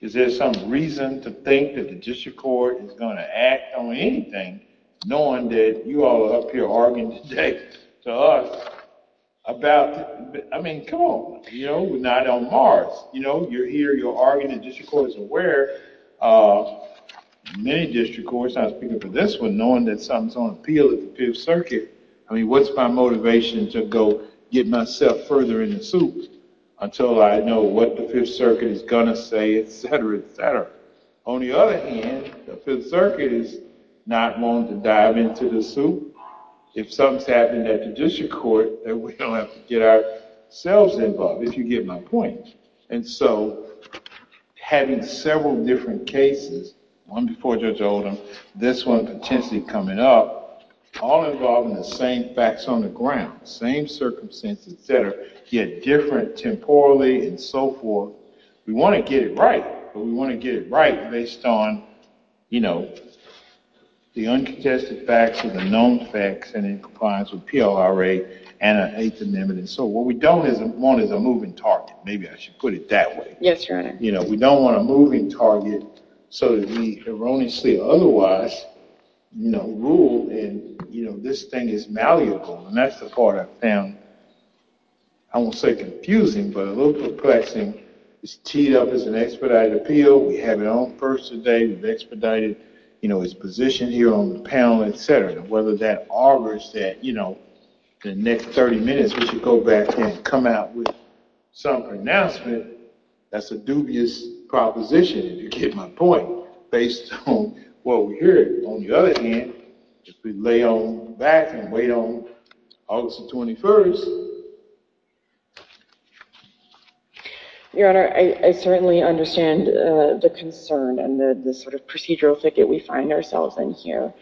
is there some reason to think that the district court is going to act on anything, knowing that you all are up here arguing today to us about, I mean, come on. You know, we're not on Mars. You know, you're here. You're arguing. The district court is aware. Many district courts, I'm speaking for this one, knowing that something's on appeal at the Fifth Circuit, I mean, what's my motivation to go get myself further in the soup until I know what the Fifth Circuit is going to say, et cetera, et cetera. On the other hand, the Fifth Circuit is not willing to dive into the soup. If something's happening at the district court, then we don't have to get ourselves involved, if you get my point. And so having several different cases, one before Judge Oldham, this one potentially coming up, all involving the same facts on the ground, same circumstances, et cetera, yet different temporally and so forth, we want to get it right. But we want to get it right based on the uncontested facts or the known facts and in compliance with PLRA and an eighth amendment. And so what we don't want is a moving target. Maybe I should put it that way. Yes, Your Honor. We don't want a moving target so that we erroneously, otherwise, rule and this thing is malleable. And that's the part I found, I won't say confusing, but a little perplexing. It's teed up as an expedited appeal. We have it on first today. We've expedited his position here on the panel, et cetera. Whether that augurs that the next 30 minutes, we should go back and come out with some pronouncement, that's a dubious proposition, if you get my point, based on what we hear. On the other hand, if we lay on the back and wait on August the 21st. Your Honor, I certainly understand the concern and the sort of procedural thicket we find ourselves in here.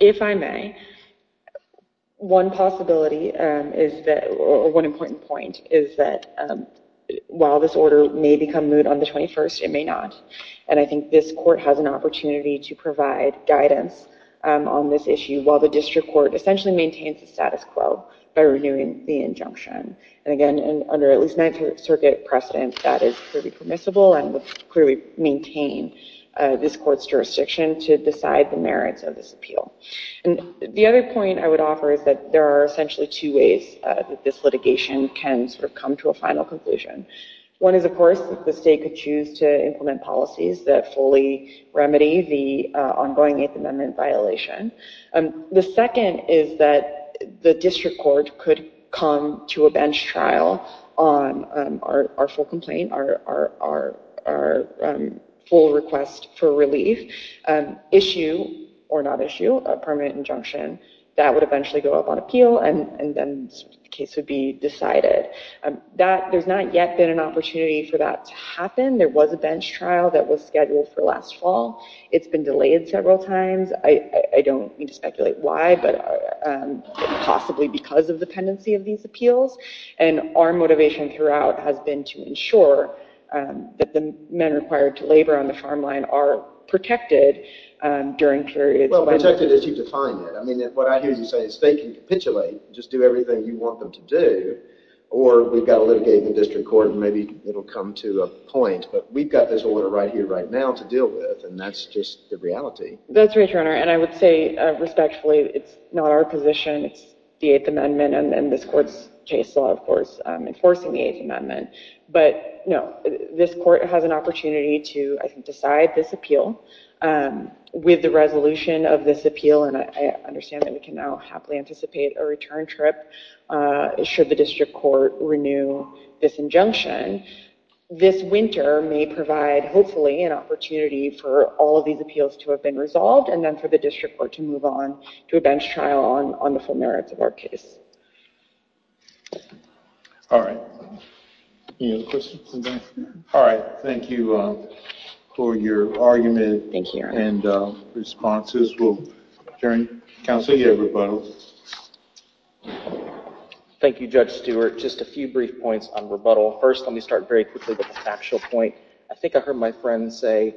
If I may, one possibility, or one important point, is that while this order may become moved on the 21st, it may not. And I think this court has an opportunity to provide guidance on this issue while the district court essentially maintains the status quo by renewing the injunction. And again, under at least Ninth Circuit precedent, that is clearly permissible and would clearly maintain this court's jurisdiction to decide the merits of this appeal. And the other point I would offer is that there are essentially two ways that this litigation can come to a final conclusion. One is, of course, the state could choose to implement policies that fully remedy the ongoing Eighth Amendment violation. The second is that the district court could come to a bench trial on our full complaint, our full request for relief, issue, or not issue, a permanent injunction. That would eventually go up on appeal, and then the case would be decided. There's not yet been an opportunity for that to happen. There was a bench trial that was scheduled for last fall. It's been delayed several times. I don't mean to speculate why, but possibly because of the pendency of these appeals. And our motivation throughout has been to ensure that the men required to labor on the farm line are protected during periods of time. Well, protected as you've defined it. I mean, what I hear you say is they can capitulate. Just do everything you want them to do. Or we've got to litigate in the district court, and maybe it'll come to a point. But we've got this order right here, right now, to deal with. And that's just the reality. That's right, Your Honor. And I would say, respectfully, it's not our position. It's the Eighth Amendment, and this court's case law, of course, enforcing the Eighth Amendment. But no, this court has an opportunity to, I think, decide this appeal. With the resolution of this appeal, and I understand that we can now happily anticipate a return trip should the district court renew this injunction. This winter may provide, hopefully, an opportunity for all of these appeals to have been resolved, and then for the district court to move on to a bench trial on the full merits of our case. All right. All right. Thank you for your argument. Thank you, Your Honor. And responses. We'll adjourn. Counsel, you have rebuttal. Thank you, Judge Stewart. Just a few brief points on rebuttal. First, let me start very quickly with the factual point. I think I heard my friend say,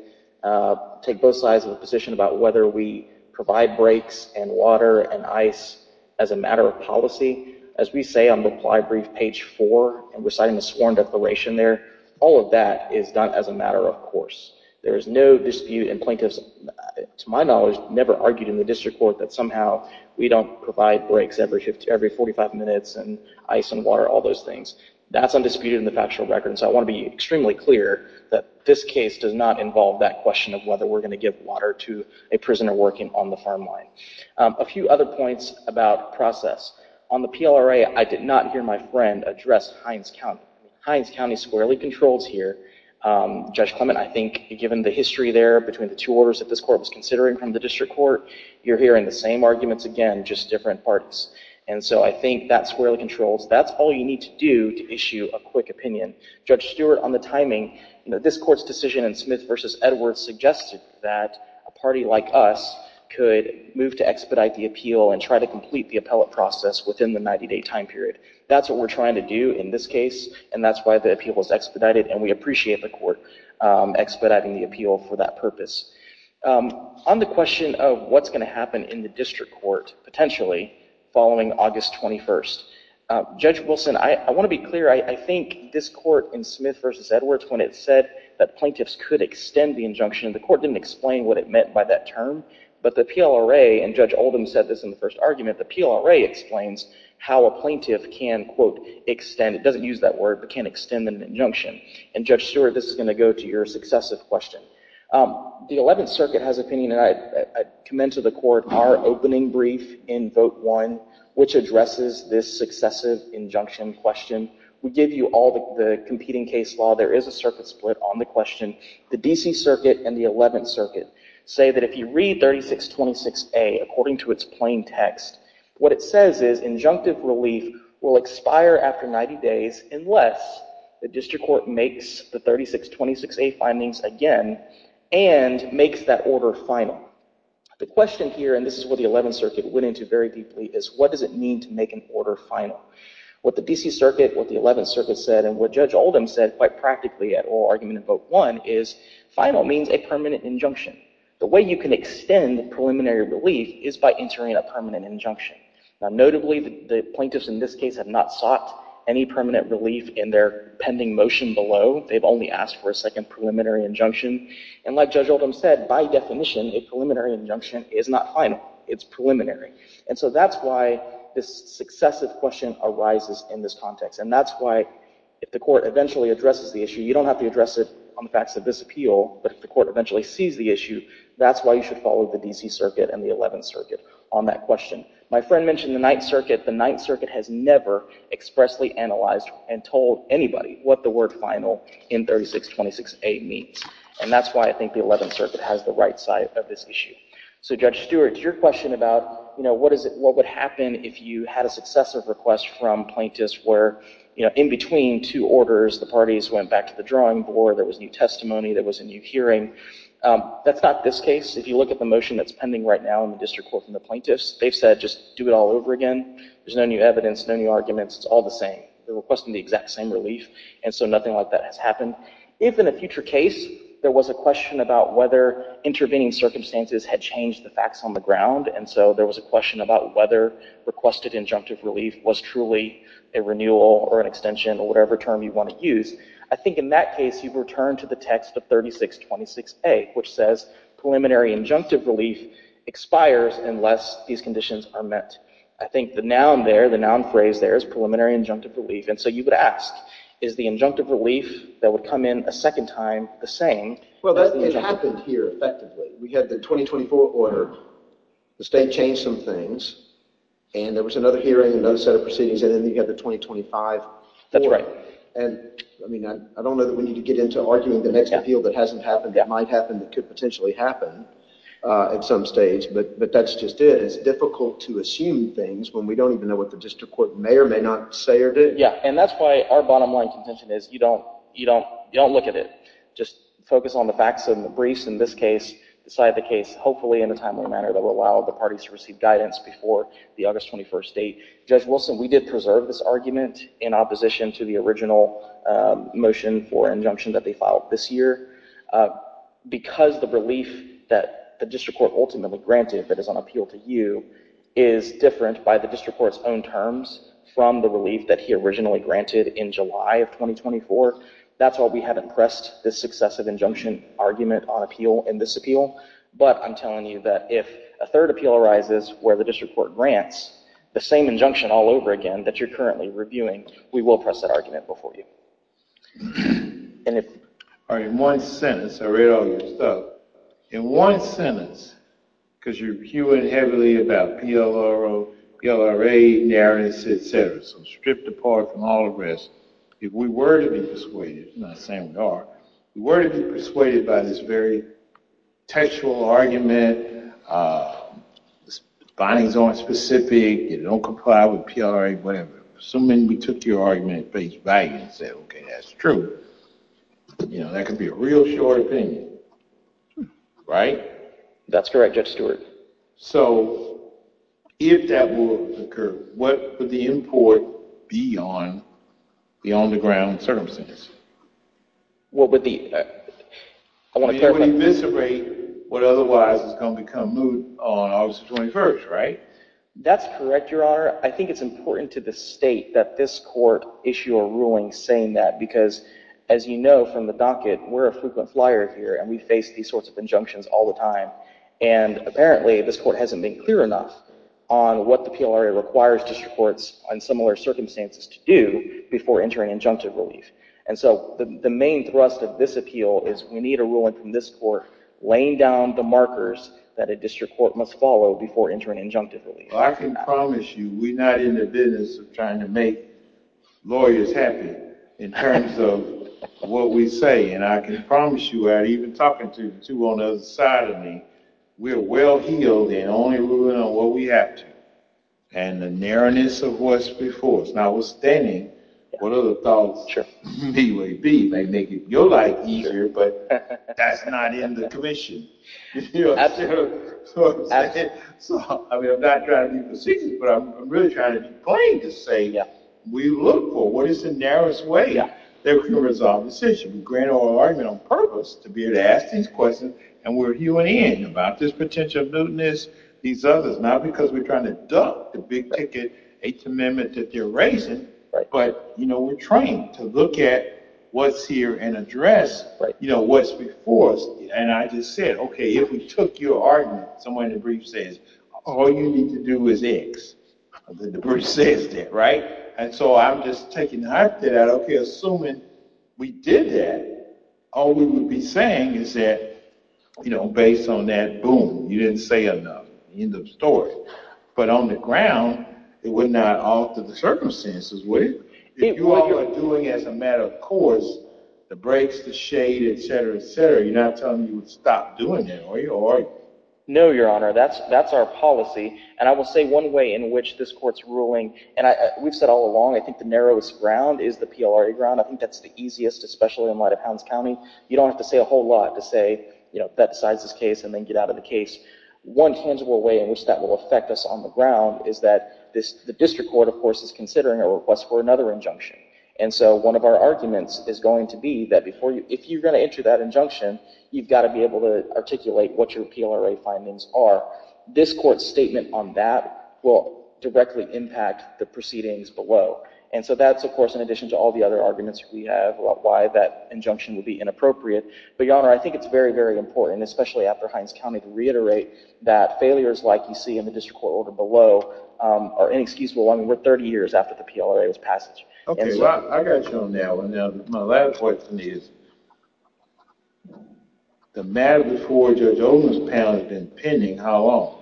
take both sides of the position about whether we provide breaks, and water, and ice as a matter of policy. As we say on reply brief page four, and we're citing the sworn declaration there, all of that is done as a matter of course. There is no dispute, and plaintiffs, to my knowledge, never argued in the district court that somehow we don't provide breaks every 45 minutes, and ice, and water, all those things. That's undisputed in the factual record. And so I want to be extremely clear that this case does not involve that question of whether we're going to give water to a prisoner working on the farm line. A few other points about process. On the PLRA, I did not hear my friend address Hines County squarely controls here. Judge Clement, I think given the history there between the two orders that this court was considering from the district court, you're hearing the same arguments again, just different parties. And so I think that squarely controls. That's all you need to do to issue a quick opinion. Judge Stewart, on the timing, this court's decision in Smith versus Edwards suggested that a party like us could move to expedite the appeal and try to complete the appellate process within the 90-day time period. That's what we're trying to do in this case, and that's why the appeal was expedited. And we appreciate the court expediting the appeal for that purpose. On the question of what's going to happen in the district court potentially following August 21st, Judge Wilson, I want to be clear. I think this court in Smith versus Edwards, when it said that plaintiffs could extend the injunction, the court didn't explain what it meant by that term. But the PLRA, and Judge Oldham said this in the first argument, the PLRA explains how a plaintiff can, quote, extend. It doesn't use that word, but can extend an injunction. And Judge Stewart, this is going to go to your successive question. The 11th Circuit has opinion, and I commend to the court our opening brief in vote one, which addresses this successive injunction question. We give you all the competing case law. There is a circuit split on the question. The DC Circuit and the 11th Circuit say that if you read 3626A according to its plain text, what it says is injunctive relief will expire after 90 days unless the district court makes the 3626A findings again and makes that order final. The question here, and this is what the 11th Circuit went into very deeply, is what does it mean to make an order final? What the DC Circuit, what the 11th Circuit said, and what Judge Oldham said quite practically at oral argument in vote one is final means a permanent injunction. The way you can extend preliminary relief is by entering a permanent injunction. Now, notably, the plaintiffs in this case have not sought any permanent relief in their pending motion below. They've only asked for a second preliminary injunction. And like Judge Oldham said, by definition, a preliminary injunction is not final. It's preliminary. And so that's why this successive question arises in this context. And that's why if the court eventually addresses the issue, you don't have to address it on the facts of this appeal. But if the court eventually sees the issue, that's why you should follow the DC Circuit and the 11th Circuit on that question. My friend mentioned the 9th Circuit. The 9th Circuit has never expressly analyzed and told anybody what the word final in 3626A means. And that's why I think the 11th Circuit has the right side of this issue. So Judge Stewart, your question about what would happen if you had a successive request from plaintiffs where in between two orders, the parties went back to the drawing board. There was new testimony. There was a new hearing. That's not this case. If you look at the motion that's pending right now in the district court from the plaintiffs, they've said just do it all over again. There's no new evidence, no new arguments. It's all the same. They're requesting the exact same relief. And so nothing like that has happened. If in a future case, there was a question about whether intervening circumstances had changed the facts on the ground, and so there was a question about whether requested injunctive relief was truly a renewal or an extension or whatever term you want to use, I think in that case, you've returned to the text of 3626A, which says preliminary injunctive relief expires unless these conditions are met. I think the noun there, the noun phrase there is preliminary injunctive relief. And so you would ask, is the injunctive relief that would come in a second time the same Well, that didn't happen here effectively. We had the 2024 order. The state changed some things. And there was another hearing and another set of proceedings. And then you had the 2025 order. And I don't know that we need to get into arguing the next appeal that hasn't happened, that might happen, that could potentially happen at some stage. But that's just it. It's difficult to assume things when we don't even know what the district court may or may not say or do. Yeah, and that's why our bottom line contention is you don't look at it. Just focus on the facts and the briefs. In this case, decide the case hopefully in a timely manner that will allow the parties to receive guidance before the August 21 date. Judge Wilson, we did preserve this argument in opposition to the original motion for injunction that they filed this year. Because the relief that the district court ultimately granted, if it is on appeal to you, is different by the district court's own terms from the relief that he originally granted in July of 2024. That's why we haven't pressed this successive injunction argument on appeal and disappeal. But I'm telling you that if a third appeal arises where the district court grants the same injunction all over again that you're currently reviewing, we will press that argument before you. And if in one sentence, I read all your stuff. In one sentence, because you're hearing heavily about PLRO, PLRA, NARES, et cetera, so stripped apart from all the rest, if we were to be persuaded, and I'm not saying we are, if we were to be persuaded by this very textual argument, findings aren't specific, it don't comply with PLRA, whatever, assuming we took your argument at face value and said, OK, that's true, that could be a real short opinion. Right? That's correct, Judge Stewart. So if that were to occur, what would the import be on the on-the-ground circumstances? Well, with the, I want to clarify. You would eviscerate what otherwise is going to become moot on August 21, right? That's correct, Your Honor. I think it's important to the state that this court issue a ruling saying that, because as you know from the docket, we're a frequent flyer here, and we face these sorts of injunctions all the time. And apparently, this court hasn't been clear enough on what the PLRA requires district courts on similar circumstances to do before entering injunctive relief. And so the main thrust of this appeal is we need a ruling from this court laying down the markers that a district court must follow before entering injunctive relief. Well, I can promise you we're not in the business of trying to make lawyers happy in terms of what we say. And I can promise you, without even talking to two on the other side of me, we're well-heeled and only ruling on what we have to, and the narrowness of what's before us. Notwithstanding, what are the thoughts B-Way B may make your life easier, but that's not in the commission. Absolutely. So I'm not trying to be facetious, but I'm really trying to be plain to say, we look for what is the narrowest way that we can resolve the situation. We grant our argument on purpose to be able to ask these questions, and we're viewing in about this potential newness, these others. Not because we're trying to duck the big ticket Eighth Amendment that they're raising, but we're trying to look at what's here and address what's before us. And I just said, OK, if we took your argument, someone in the brief says, all you need to do is X. The brief says that, right? And so I'm just taking that out, OK, assuming we did that, all we would be saying is that, based on that, boom, you didn't say enough. End of story. But on the ground, it would not alter the circumstances, would it? If you all are doing as a matter of course, the breaks, the shade, et cetera, et cetera, you're not telling me you would stop doing that, are you? No, Your Honor, that's our policy. And I will say one way in which this court's ruling, and we've said all along, I think the narrowest ground is the PLRA ground. I think that's the easiest, especially in light of Hounds County, you don't have to say a whole lot to say that decides this case and then get out of the case. One tangible way in which that will affect us on the ground is that the district court, of course, is considering a request for another injunction. And so one of our arguments is going to be that if you're going to enter that injunction, you've got to be able to articulate what your PLRA findings are. This court's statement on that will directly impact the proceedings below. And so that's, of course, in addition to all the other arguments we have about why that injunction would be inappropriate. But, Your Honor, I think it's very, very important, especially after Hinds County, to reiterate that failures like you see in the district court order below are inexcusable. I mean, we're 30 years after the PLRA was passed. OK, well, I got you on that one. My last question is, the matter before Judge Oldham's panel has been pending, how long?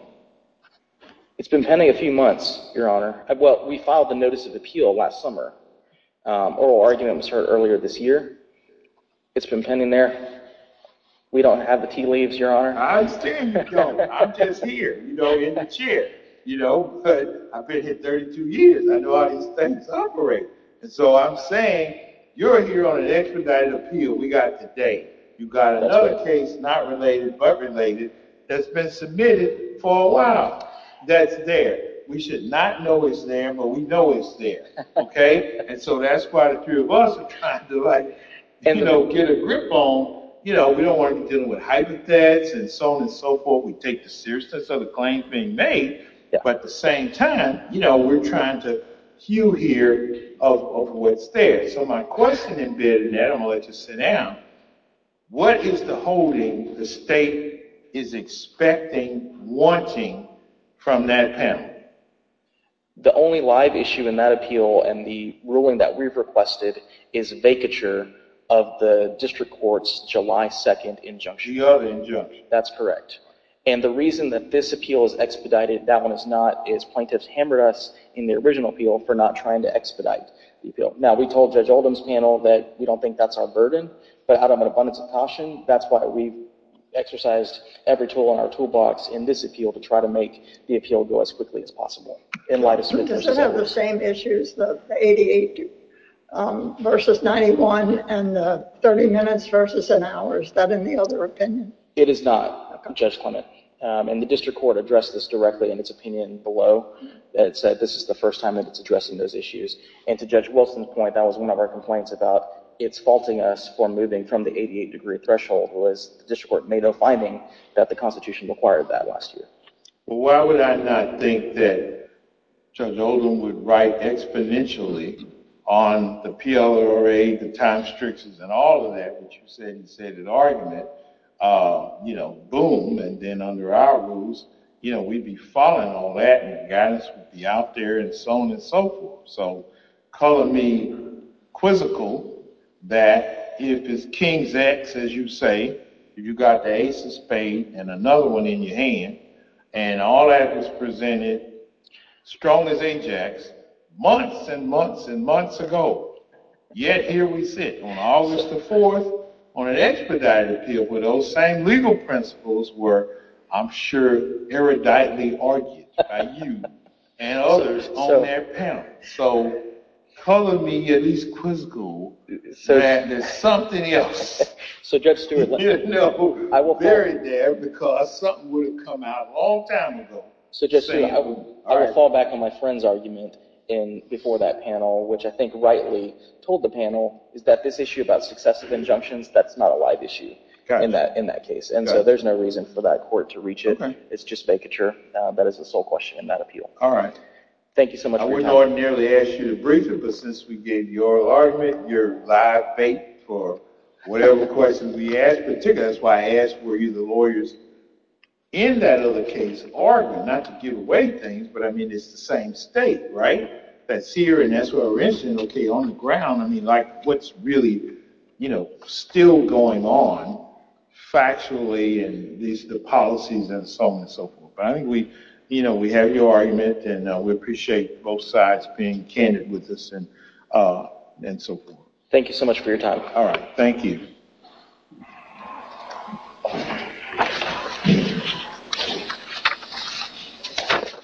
It's been pending a few months, Your Honor. Well, we filed the notice of appeal last summer. Oral argument was heard earlier this year. It's been pending there. We don't have the tea leaves, Your Honor. I understand you don't. I'm just here, you know, in the chair. You know, but I've been here 32 years. I know how these things operate. And so I'm saying, you're here on an expedited appeal. We got it today. You've got another case, not related but related, that's been submitted for a while that's there. We should not know it's there, but we know it's there. And so that's why the three of us are trying to like, you know, get a grip on, you know, we don't want to be dealing with hypothets and so on and so forth. We take the seriousness of the claims being made. But at the same time, you know, we're trying to cue here of what's there. So my question in bed, and Adam will let you sit down, what is the holding the state is expecting, wanting from that panel? The only live issue in that appeal and the ruling that we've requested is vacature of the district court's July 2nd injunction. July 2nd injunction. That's correct. And the reason that this appeal is expedited, that one is not, is plaintiffs hammered us in the original appeal for not trying to expedite the appeal. Now, we told Judge Oldham's panel that we don't think that's our burden. But out of an abundance of caution, that's why we've exercised every tool in our toolbox in this appeal to try to make the appeal go as quickly as possible. In light of Smith's example. Does it have the same issues, the 88 versus 91 and the 30 minutes versus an hour? Is that in the other opinion? It is not, Judge Clement. And the district court addressed this directly in its opinion below. It said this is the first time that it's addressing those issues. And to Judge Wilson's point, that was one of our complaints about it's faulting us for moving from the 88 degree threshold, was the district court made no finding that the Constitution required that last year. Well, why would I not think that Judge Oldham would write exponentially on the PLRA, the time strictures, and all of that, which you said in argument, boom, and then under our rules, we'd be following all that. And the guidance would be out there and so on and so forth. So color me quizzical that if it's King's X, as you say, if you've got the ace of spades and another one in your hand, and all that was presented strong as Ajax months and months and months ago, yet here we sit on August the 4th on an expedited appeal where those same legal principles were, I'm sure, eruditely argued by you and others on that panel. So color me at least quizzical that there's something else. So Judge Stewart, I will fall back on my friend's argument before that panel, which I think rightly told the panel is that this issue about successive injunctions, that's not a live issue in that case. And so there's no reason for that court to reach it. It's just vacature. That is the sole question in that appeal. Thank you so much for your time. I wouldn't ordinarily ask you to brief it, but since we gave your argument, your live faith for whatever questions we ask, particularly that's why I asked were you the lawyers in that other case arguing, not to give away things, but I mean, it's the same state, right, that's here and that's where we're interested. OK, on the ground, I mean, like what's really still going on factually and the policies and so on and so forth. I think we have your argument, and we appreciate both sides being candid with us and so forth. Thank you so much for your time. All right, thank you.